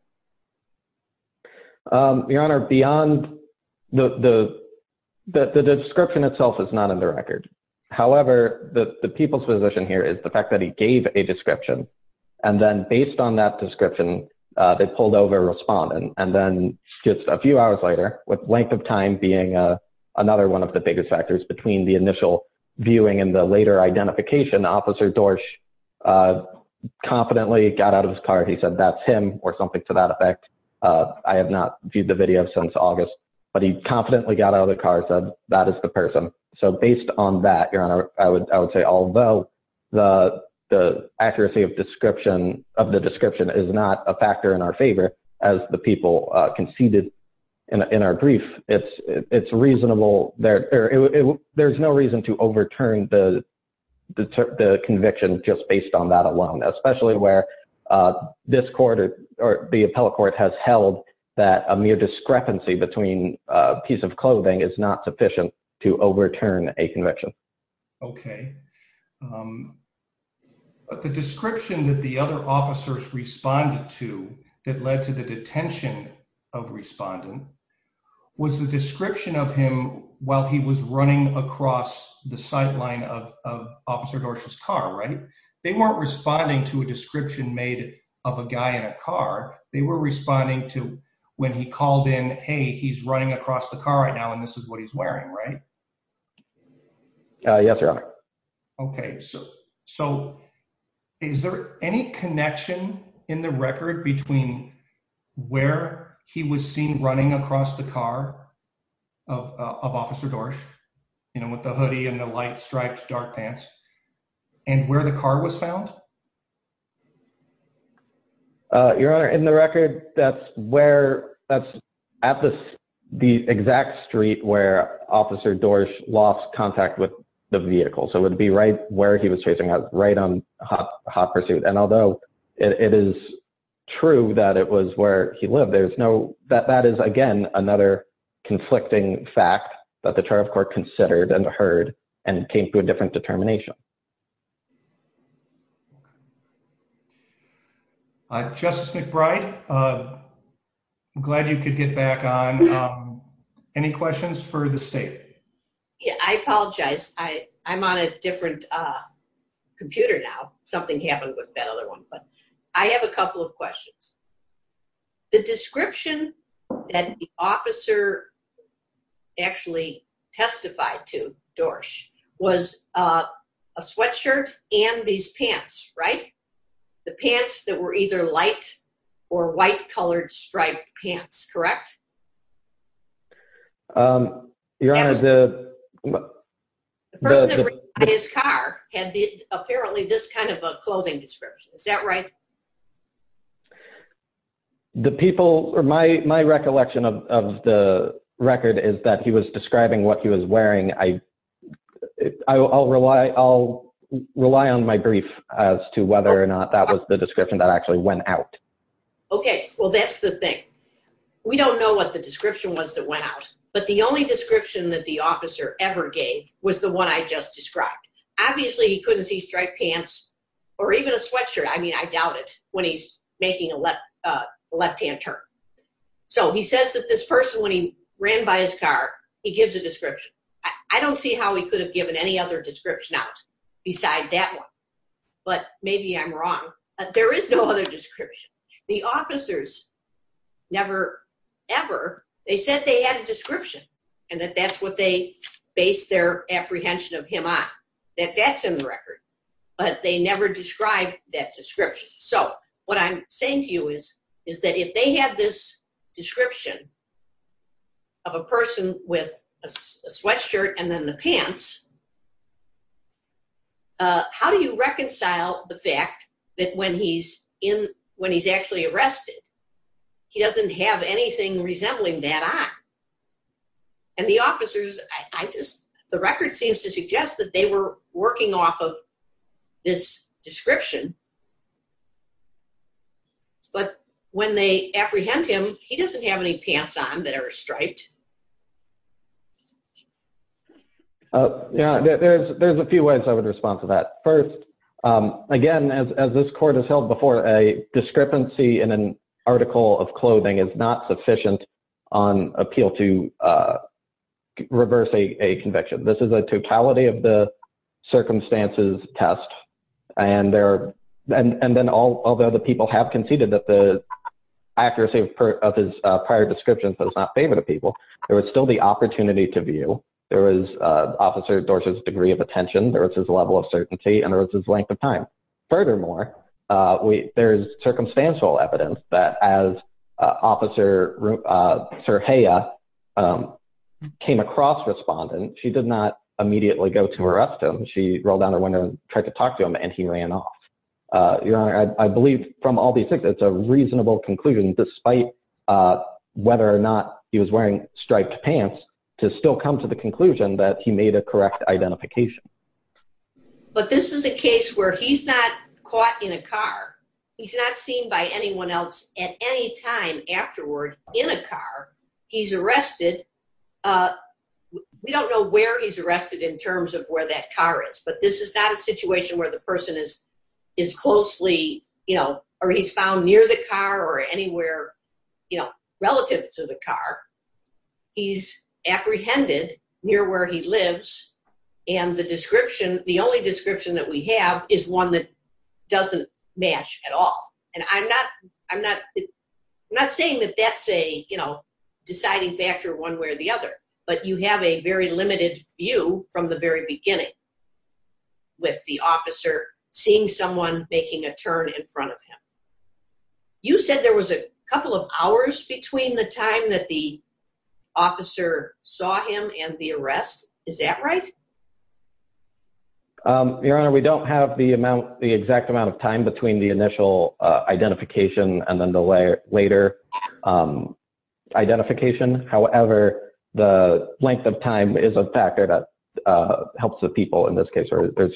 Um, your honor, beyond the, the, the description itself is not in the record. However, the, the people's position here is the fact that he gave a description and then based on that description, uh, they pulled over a respondent and then just a few hours later with length of time being, uh, another one of the biggest factors between the initial viewing and the later identification officer Dorsch, uh, confidently got out of his car. He said, that's him or something to that effect. Uh, I have not viewed the video since August, but he confidently got out of the car and said, that is the person. So based on that, your honor, I would, I would say, although the, the accuracy of description of the description is not a factor in our favor as the people conceded in our brief, it's, it's reasonable there, or there's no reason to overturn the, the, the conviction just based on that alone, especially where, uh, this quarter or the appellate court has held that a mere discrepancy between a piece of clothing is not sufficient to overturn a conviction. Okay. Um, but the description that the other officers responded to that led to the detention of the defendant, the defendant, the defendant, the defendant, the defendant was the description of him while he was running across the sideline of, of officer Dorsch's car, right? They weren't responding to a description made of a guy in a car. They were responding to when he called in, Hey, he's running across the car right now. And this is what he's wearing, right? Uh, yes, your honor. Okay. So, so is there any connection in the record between where he was seen running across the car of, uh, of officer Dorsch, you know, with the hoodie and the light stripes, dark pants and where the car was found? Uh, your honor in the record, that's where that's at the, the exact street where officer Dorsch lost contact with the vehicle. So it would be right where he was chasing us right on hot pursuit. And although it is true that it was where he lived, there's no, that, that is again, another conflicting fact that the trial court considered and heard and came to a different determination. Uh, justice McBride, uh, I'm glad you could get back on, um, any questions for the state? Yeah, I apologize. I I'm on a different, uh, computer now. Something happened with that other one, but I have a couple of questions. The description that the officer actually testified to Dorsch was, uh, a sweatshirt and these pants, right? The pants that were either light or white colored striped pants, correct? Um, your honor, the, the person in his car had the, apparently this kind of a clothing description. Is that right? The people are my, my recollection of, of the record is that he was describing what he was wearing. I, I I'll rely, I'll rely on my brief as to whether or not that was the description that actually went out. Okay. Well, that's the thing. We don't know what the description was that went out, but the only description that the officer ever gave was the one I just described. Obviously he couldn't see striped pants or even a sweatshirt. I mean, I doubt it when he's making a left, uh, left-hand turn. So he says that this person, when he ran by his car, he gives a description. I don't see how he could have given any other description out beside that one, but maybe I'm wrong. There is no other description. The officers never ever, they said they had a description and that that's what they based their apprehension of him on, that that's in the record, but they never described that description. So what I'm saying to you is, is that if they had this description of a person with a sweatshirt and then the pants, uh, how do you reconcile the fact that when he's in, when he's actually arrested, he doesn't have anything resembling that on? And the officers, I just, the record seems to suggest that they were working off of this description, but when they apprehend him, he doesn't have any pants on that are striped. Yeah, there's, there's a few ways I would respond to that. First, um, again, as, as this court has held before a discrepancy in an article of clothing is not sufficient on appeal to, uh, reverse a, a conviction. This is a totality of the circumstances test and there, and, and then all the other people have conceded that the accuracy of his prior descriptions does not favor the people. There was still the opportunity to view. There was, uh, officer Dorsey's degree of attention. There was his level of certainty and there was his length of time. Furthermore, uh, we, there's circumstantial evidence that as, uh, officer, uh, came across respondent, she did not immediately go to arrest him. She rolled down the window and tried to talk to him and he ran off. Uh, your honor, I believe from all these things, that's a reasonable conclusion, despite, uh, whether or not he was wearing striped pants to still come to the conclusion that he made a correct identification. But this is a case where he's not caught in a car. He's not seen by anyone else at any time afterward in a car he's arrested. Uh, we don't know where he's arrested in terms of where that car is, but this is not a situation where the person is, is closely, you know, or he's found near the car or anywhere, you know, close to the car he's apprehended near where he lives. And the description, the only description that we have is one that doesn't match at all. And I'm not, I'm not, I'm not saying that that's a, you know, deciding factor one way or the other, but you have a very limited view from the very beginning with the officer seeing someone making a turn in front of him. You said there was a couple of hours between the time that the officer saw him and the arrest. Is that right? Um, your honor, we don't have the amount, the exact amount of time between the initial, uh, identification and then the later, um, identification. However, the length of time is a factor that, uh, helps the people in this case, or there's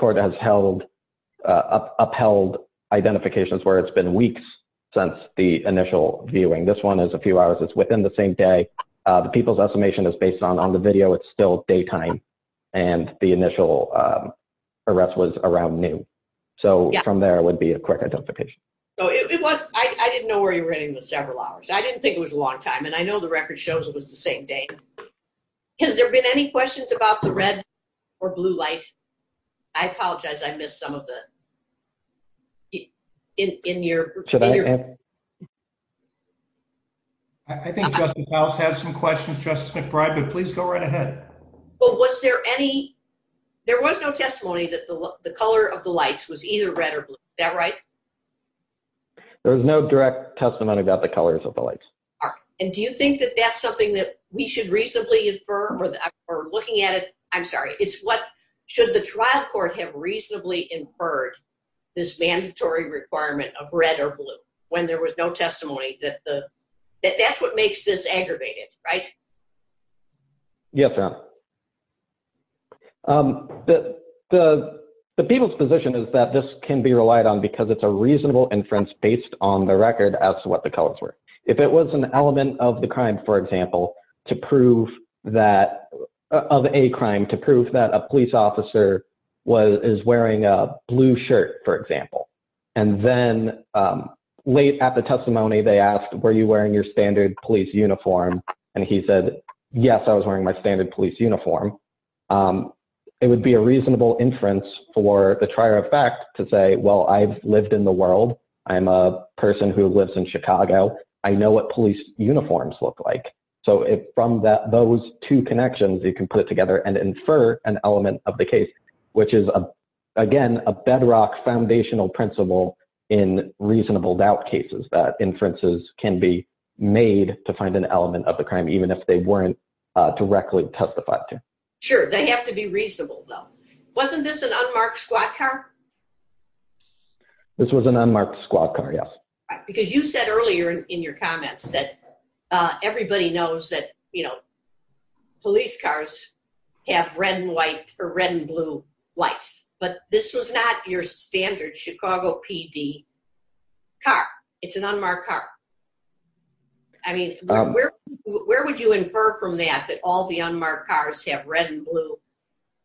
court has held, uh, upheld identifications where it's been weeks since the initial viewing. This one is a few hours. It's within the same day. Uh, the people's estimation is based on, on the video. It's still daytime and the initial, um, arrest was around noon. So from there, it would be a quick identification. So it was, I didn't know where you were heading with several hours. I didn't think it was a long time. And I know the record shows it was the same day. Has there been any questions about the red or blue light? I apologize. I missed some of the, in, in your, I think justice has some questions. Justice McBride, but please go right ahead. But was there any, there was no testimony that the color of the lights was either red or blue. That right? There was no direct testimony about the colors of the lights. All right. And do you think that that's something that we should reasonably infer or looking at it? I'm sorry. Should the trial court have reasonably inferred this mandatory requirement of red or blue when there was no testimony that the, that that's what makes this aggravated, right? Yes, ma'am. Um, the, the, the people's position is that this can be relied on because it's a reasonable inference based on the record as to what the colors were. If it was an element of the crime, for example, to prove that of a crime to prove that a police officer was, is wearing a blue shirt, for example. And then, um, late at the testimony, they asked, were you wearing your standard police uniform? And he said, yes, I was wearing my standard police uniform. Um, it would be a reasonable inference for the trier of fact to say, well, I've lived in the world. I'm a person who lives in Chicago. I know what police uniforms look like. So if from that, those two connections, you can put it together and infer an element of the case, which is again, a bedrock foundational principle in reasonable doubt cases that inferences can be made to find an element of the crime, even if they weren't directly testified to. Sure. They have to be reasonable though. Wasn't this an unmarked squad car? This was an unmarked squad car. Yes. Because you said earlier in your comments that, uh, everybody knows that, you know, police cars have red and white or red and blue lights, but this was not your standard Chicago PD car. It's an unmarked car. I mean, where, where would you infer from that, that all the unmarked cars have red and blue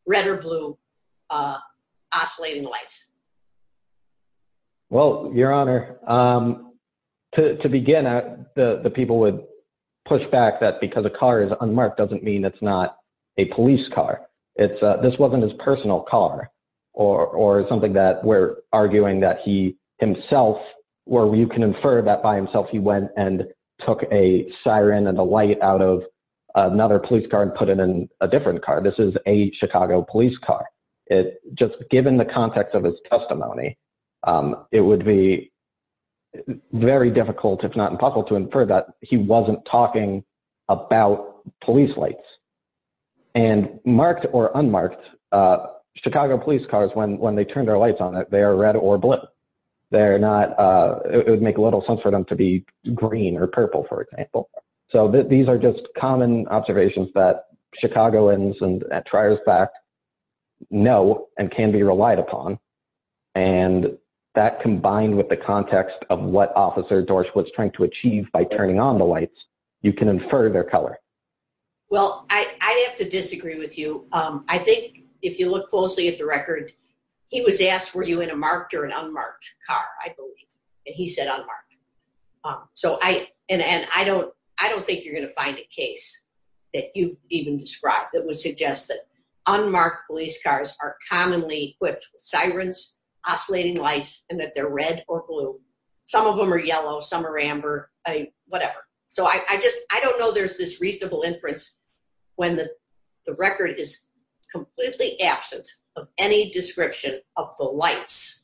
red or blue, uh, oscillating lights? Well, your honor, um, to, to begin, uh, the, the people would push back that because the car is unmarked doesn't mean it's not a police car. It's a, this wasn't his personal car or, or something that we're arguing that he himself where you can infer that by himself, he went and took a siren and the light out of another police car and put it in a different car. This is a Chicago police car. Just given the context of his testimony, um, it would be very difficult, if not impossible to infer that he wasn't talking about police lights and marked or unmarked, uh, Chicago police cars when, when they turned their lights on it, they are red or blue. They're not, uh, it would make a little sense for them to be green or purple, for example. So these are just common observations that Chicagoans and at Trier's back know and can be relied upon. And that combined with the context of what officer Dorse was trying to achieve by turning on the lights, you can infer their color. Well, I, I have to disagree with you. Um, I think if you look closely at the record, he was asked, were you in a marked or an unmarked car? I believe that he said unmarked. Um, so I, and, and I don't, I don't think you're going to find a case that you've even described that would suggest that unmarked police cars are commonly equipped with sirens, oscillating lights, and that they're red or blue. Some of them are yellow, some are amber, uh, whatever. So I, I just, I don't know there's this reasonable inference when the, the record is completely absent of any description of the lights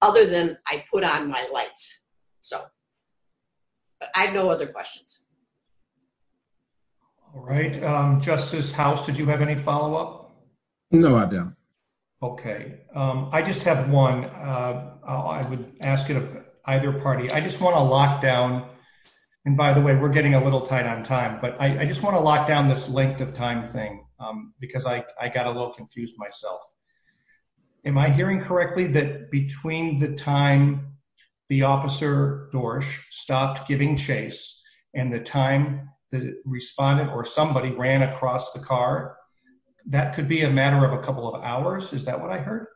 other than I put on my lights. So, but I have no other questions. All right. Um, Justice House, did you have any follow-up? No, I don't. Okay. Um, I just have one, uh, I would ask it of either party. I just want to lock down. And by the way, we're getting a little tight on time, but I just want to lock down this length of time thing, um, because I, I got a little confused myself. Am I hearing correctly that between the time the officer Dorsch stopped giving chase and the time that it responded or somebody ran across the car, that could be a matter of a couple of hours. Is that what I heard?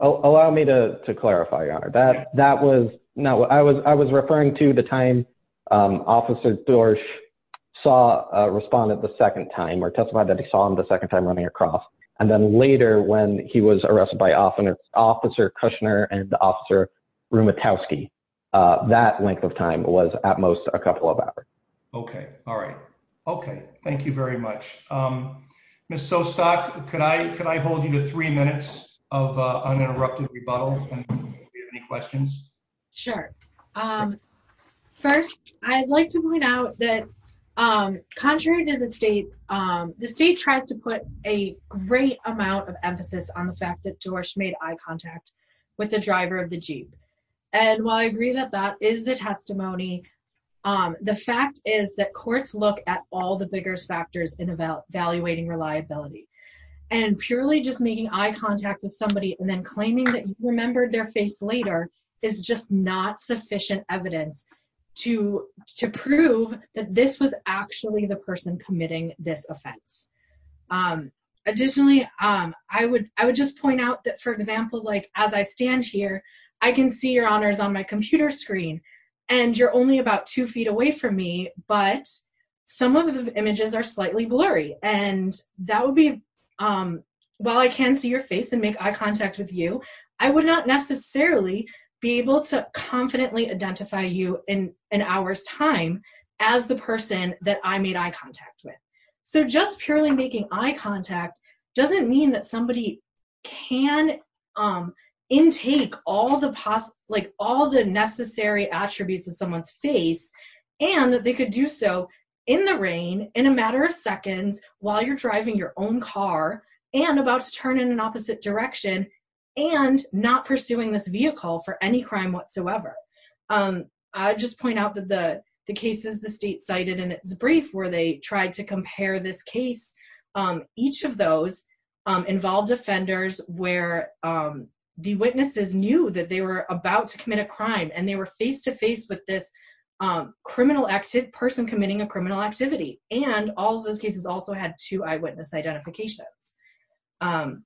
Allow me to, to clarify, Your Honor. That was not what I was. I was referring to the time, um, officer Dorsch saw, uh, responded the second time or testified that he saw him the second time running across. And then later when he was arrested by officer Kushner and the officer Rumitowski, uh, that length of time was at most a couple of hours. Okay. All right. Okay. Thank you very much. Um, Ms. Sostok, could I, could I hold you to three minutes of, uh, uninterrupted rebuttal? Sure. Um, first I'd like to point out that, um, contrary to the state, um, the state tries to put a great amount of emphasis on the fact that Dorsch made eye contact with the driver of the Jeep. And while I agree that that is the testimony, um, the fact is that courts look at all the biggest factors in evaluating reliability and purely just making eye contact with somebody and then claiming that you remembered their face later is just not sufficient evidence to, to prove that this was actually the person committing this offense. Um, additionally, um, I would, I would just point out that for example, like as I stand here, I can see your honors on my computer screen and you're only about two feet away from me, but some of the images are slightly blurry and that would be, um, while I can see your face and make eye contact with you, I would not necessarily be able to confidently identify you in an hour's time as the person that I made eye contact with. So just purely making eye contact doesn't mean that somebody can, um, intake all the possible, like all the necessary attributes of someone's face and that they could do so in the rain in a matter of seconds while you're driving your own car and about to turn in opposite direction and not pursuing this vehicle for any crime whatsoever. Um, I just point out that the, the cases the state cited in its brief where they tried to compare this case, um, each of those, um, involved offenders where, um, the witnesses knew that they were about to commit a crime and they were face to face with this, um, criminal active person committing a criminal activity. And all of those cases also had two eyewitness identifications. Um,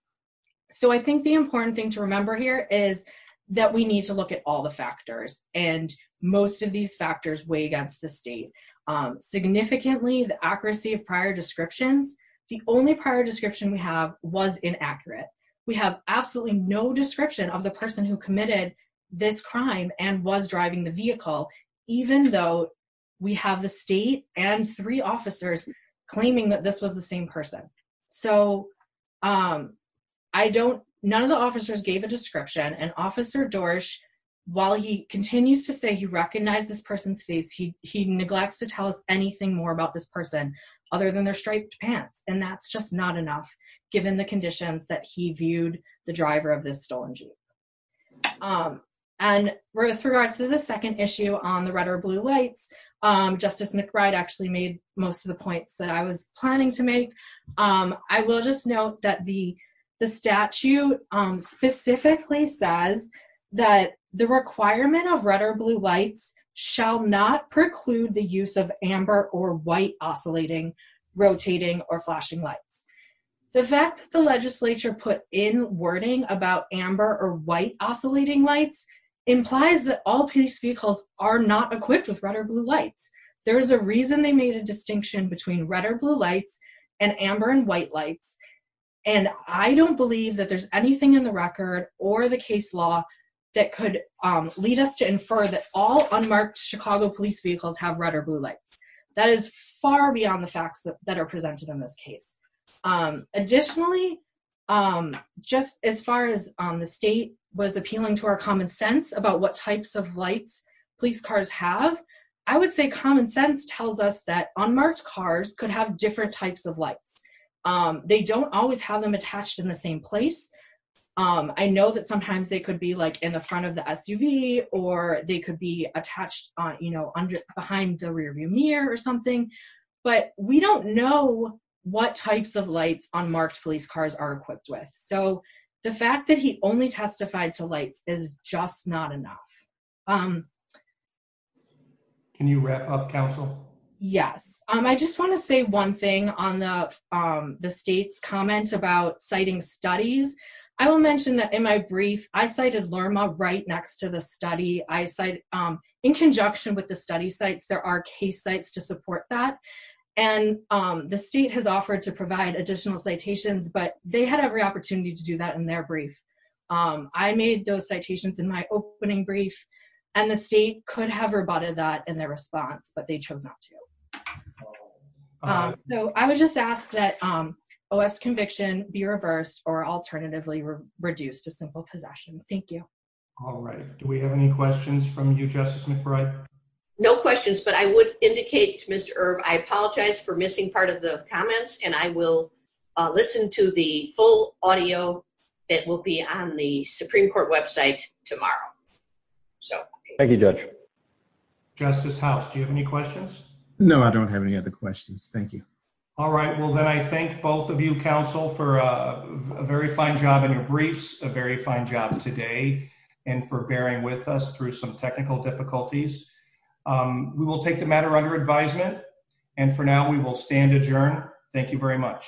so I think the important thing to remember here is that we need to look at all the factors and most of these factors weigh against the state. Um, significantly the accuracy of prior descriptions. The only prior description we have was inaccurate. We have absolutely no description of the person who committed this crime and was driving the claiming that this was the same person. So, um, I don't, none of the officers gave a description and officer Dorsch, while he continues to say he recognized this person's face, he, he neglects to tell us anything more about this person other than their striped pants. And that's just not enough given the conditions that he viewed the driver of this stolen jeep. Um, and with regards to the second issue on the red or blue lights, um, justice McBride actually made most of the points that I was planning to make. Um, I will just note that the, the statute, um, specifically says that the requirement of red or blue lights shall not preclude the use of Amber or white oscillating, rotating or flashing lights. The fact that the legislature put in wording about Amber or white oscillating lights implies that all police vehicles are not equipped with red or blue lights. There is a reason they made a distinction between red or blue lights and Amber and white lights. And I don't believe that there's anything in the record or the case law that could, um, lead us to infer that all unmarked Chicago police vehicles have red or blue lights. That is far beyond the facts that are presented in this case. Um, additionally, um, just as far as, um, the state was appealing to our common sense about what types of lights police cars have, I would say common sense tells us that on March cars could have different types of lights. Um, they don't always have them attached in the same place. Um, I know that sometimes they could be like in the front of the SUV or they could be attached on, you know, under behind the rear view mirror or something, but we don't know what types of lights on marked police cars are equipped with. So the fact that he only testified to lights is just not enough. Um, can you wrap up council? Yes. Um, I just want to say one thing on the, um, the state's comment about citing studies. I will mention that in my brief, I cited Lerma right next to the study. I cite, um, in conjunction with the study sites, there are case sites to support that. And, um, the state has offered to provide additional citations, but they had every opportunity to do that in their brief. Um, I made those citations in my opening brief and the state could have rebutted that in their response, but they chose not to. Um, so I would just ask that, um, OS conviction be reversed or alternatively reduced to simple possession. Thank you. All right. Do we have any questions from you, Justice McBride? No questions, but I would indicate Mr. Irv. I apologize for missing part of the comments and I will, uh, listen to the full audio. It will be on the Supreme Court website tomorrow. So thank you. Justice House. Do you have any questions? No, I don't have any other questions. Thank you. All right. Well, then I think both of you counsel for a very fine job in your briefs, a very fine job today and for bearing with us through some technical difficulties. Um, we will take the matter under advisement and for now we will stand adjourned. Thank you very much.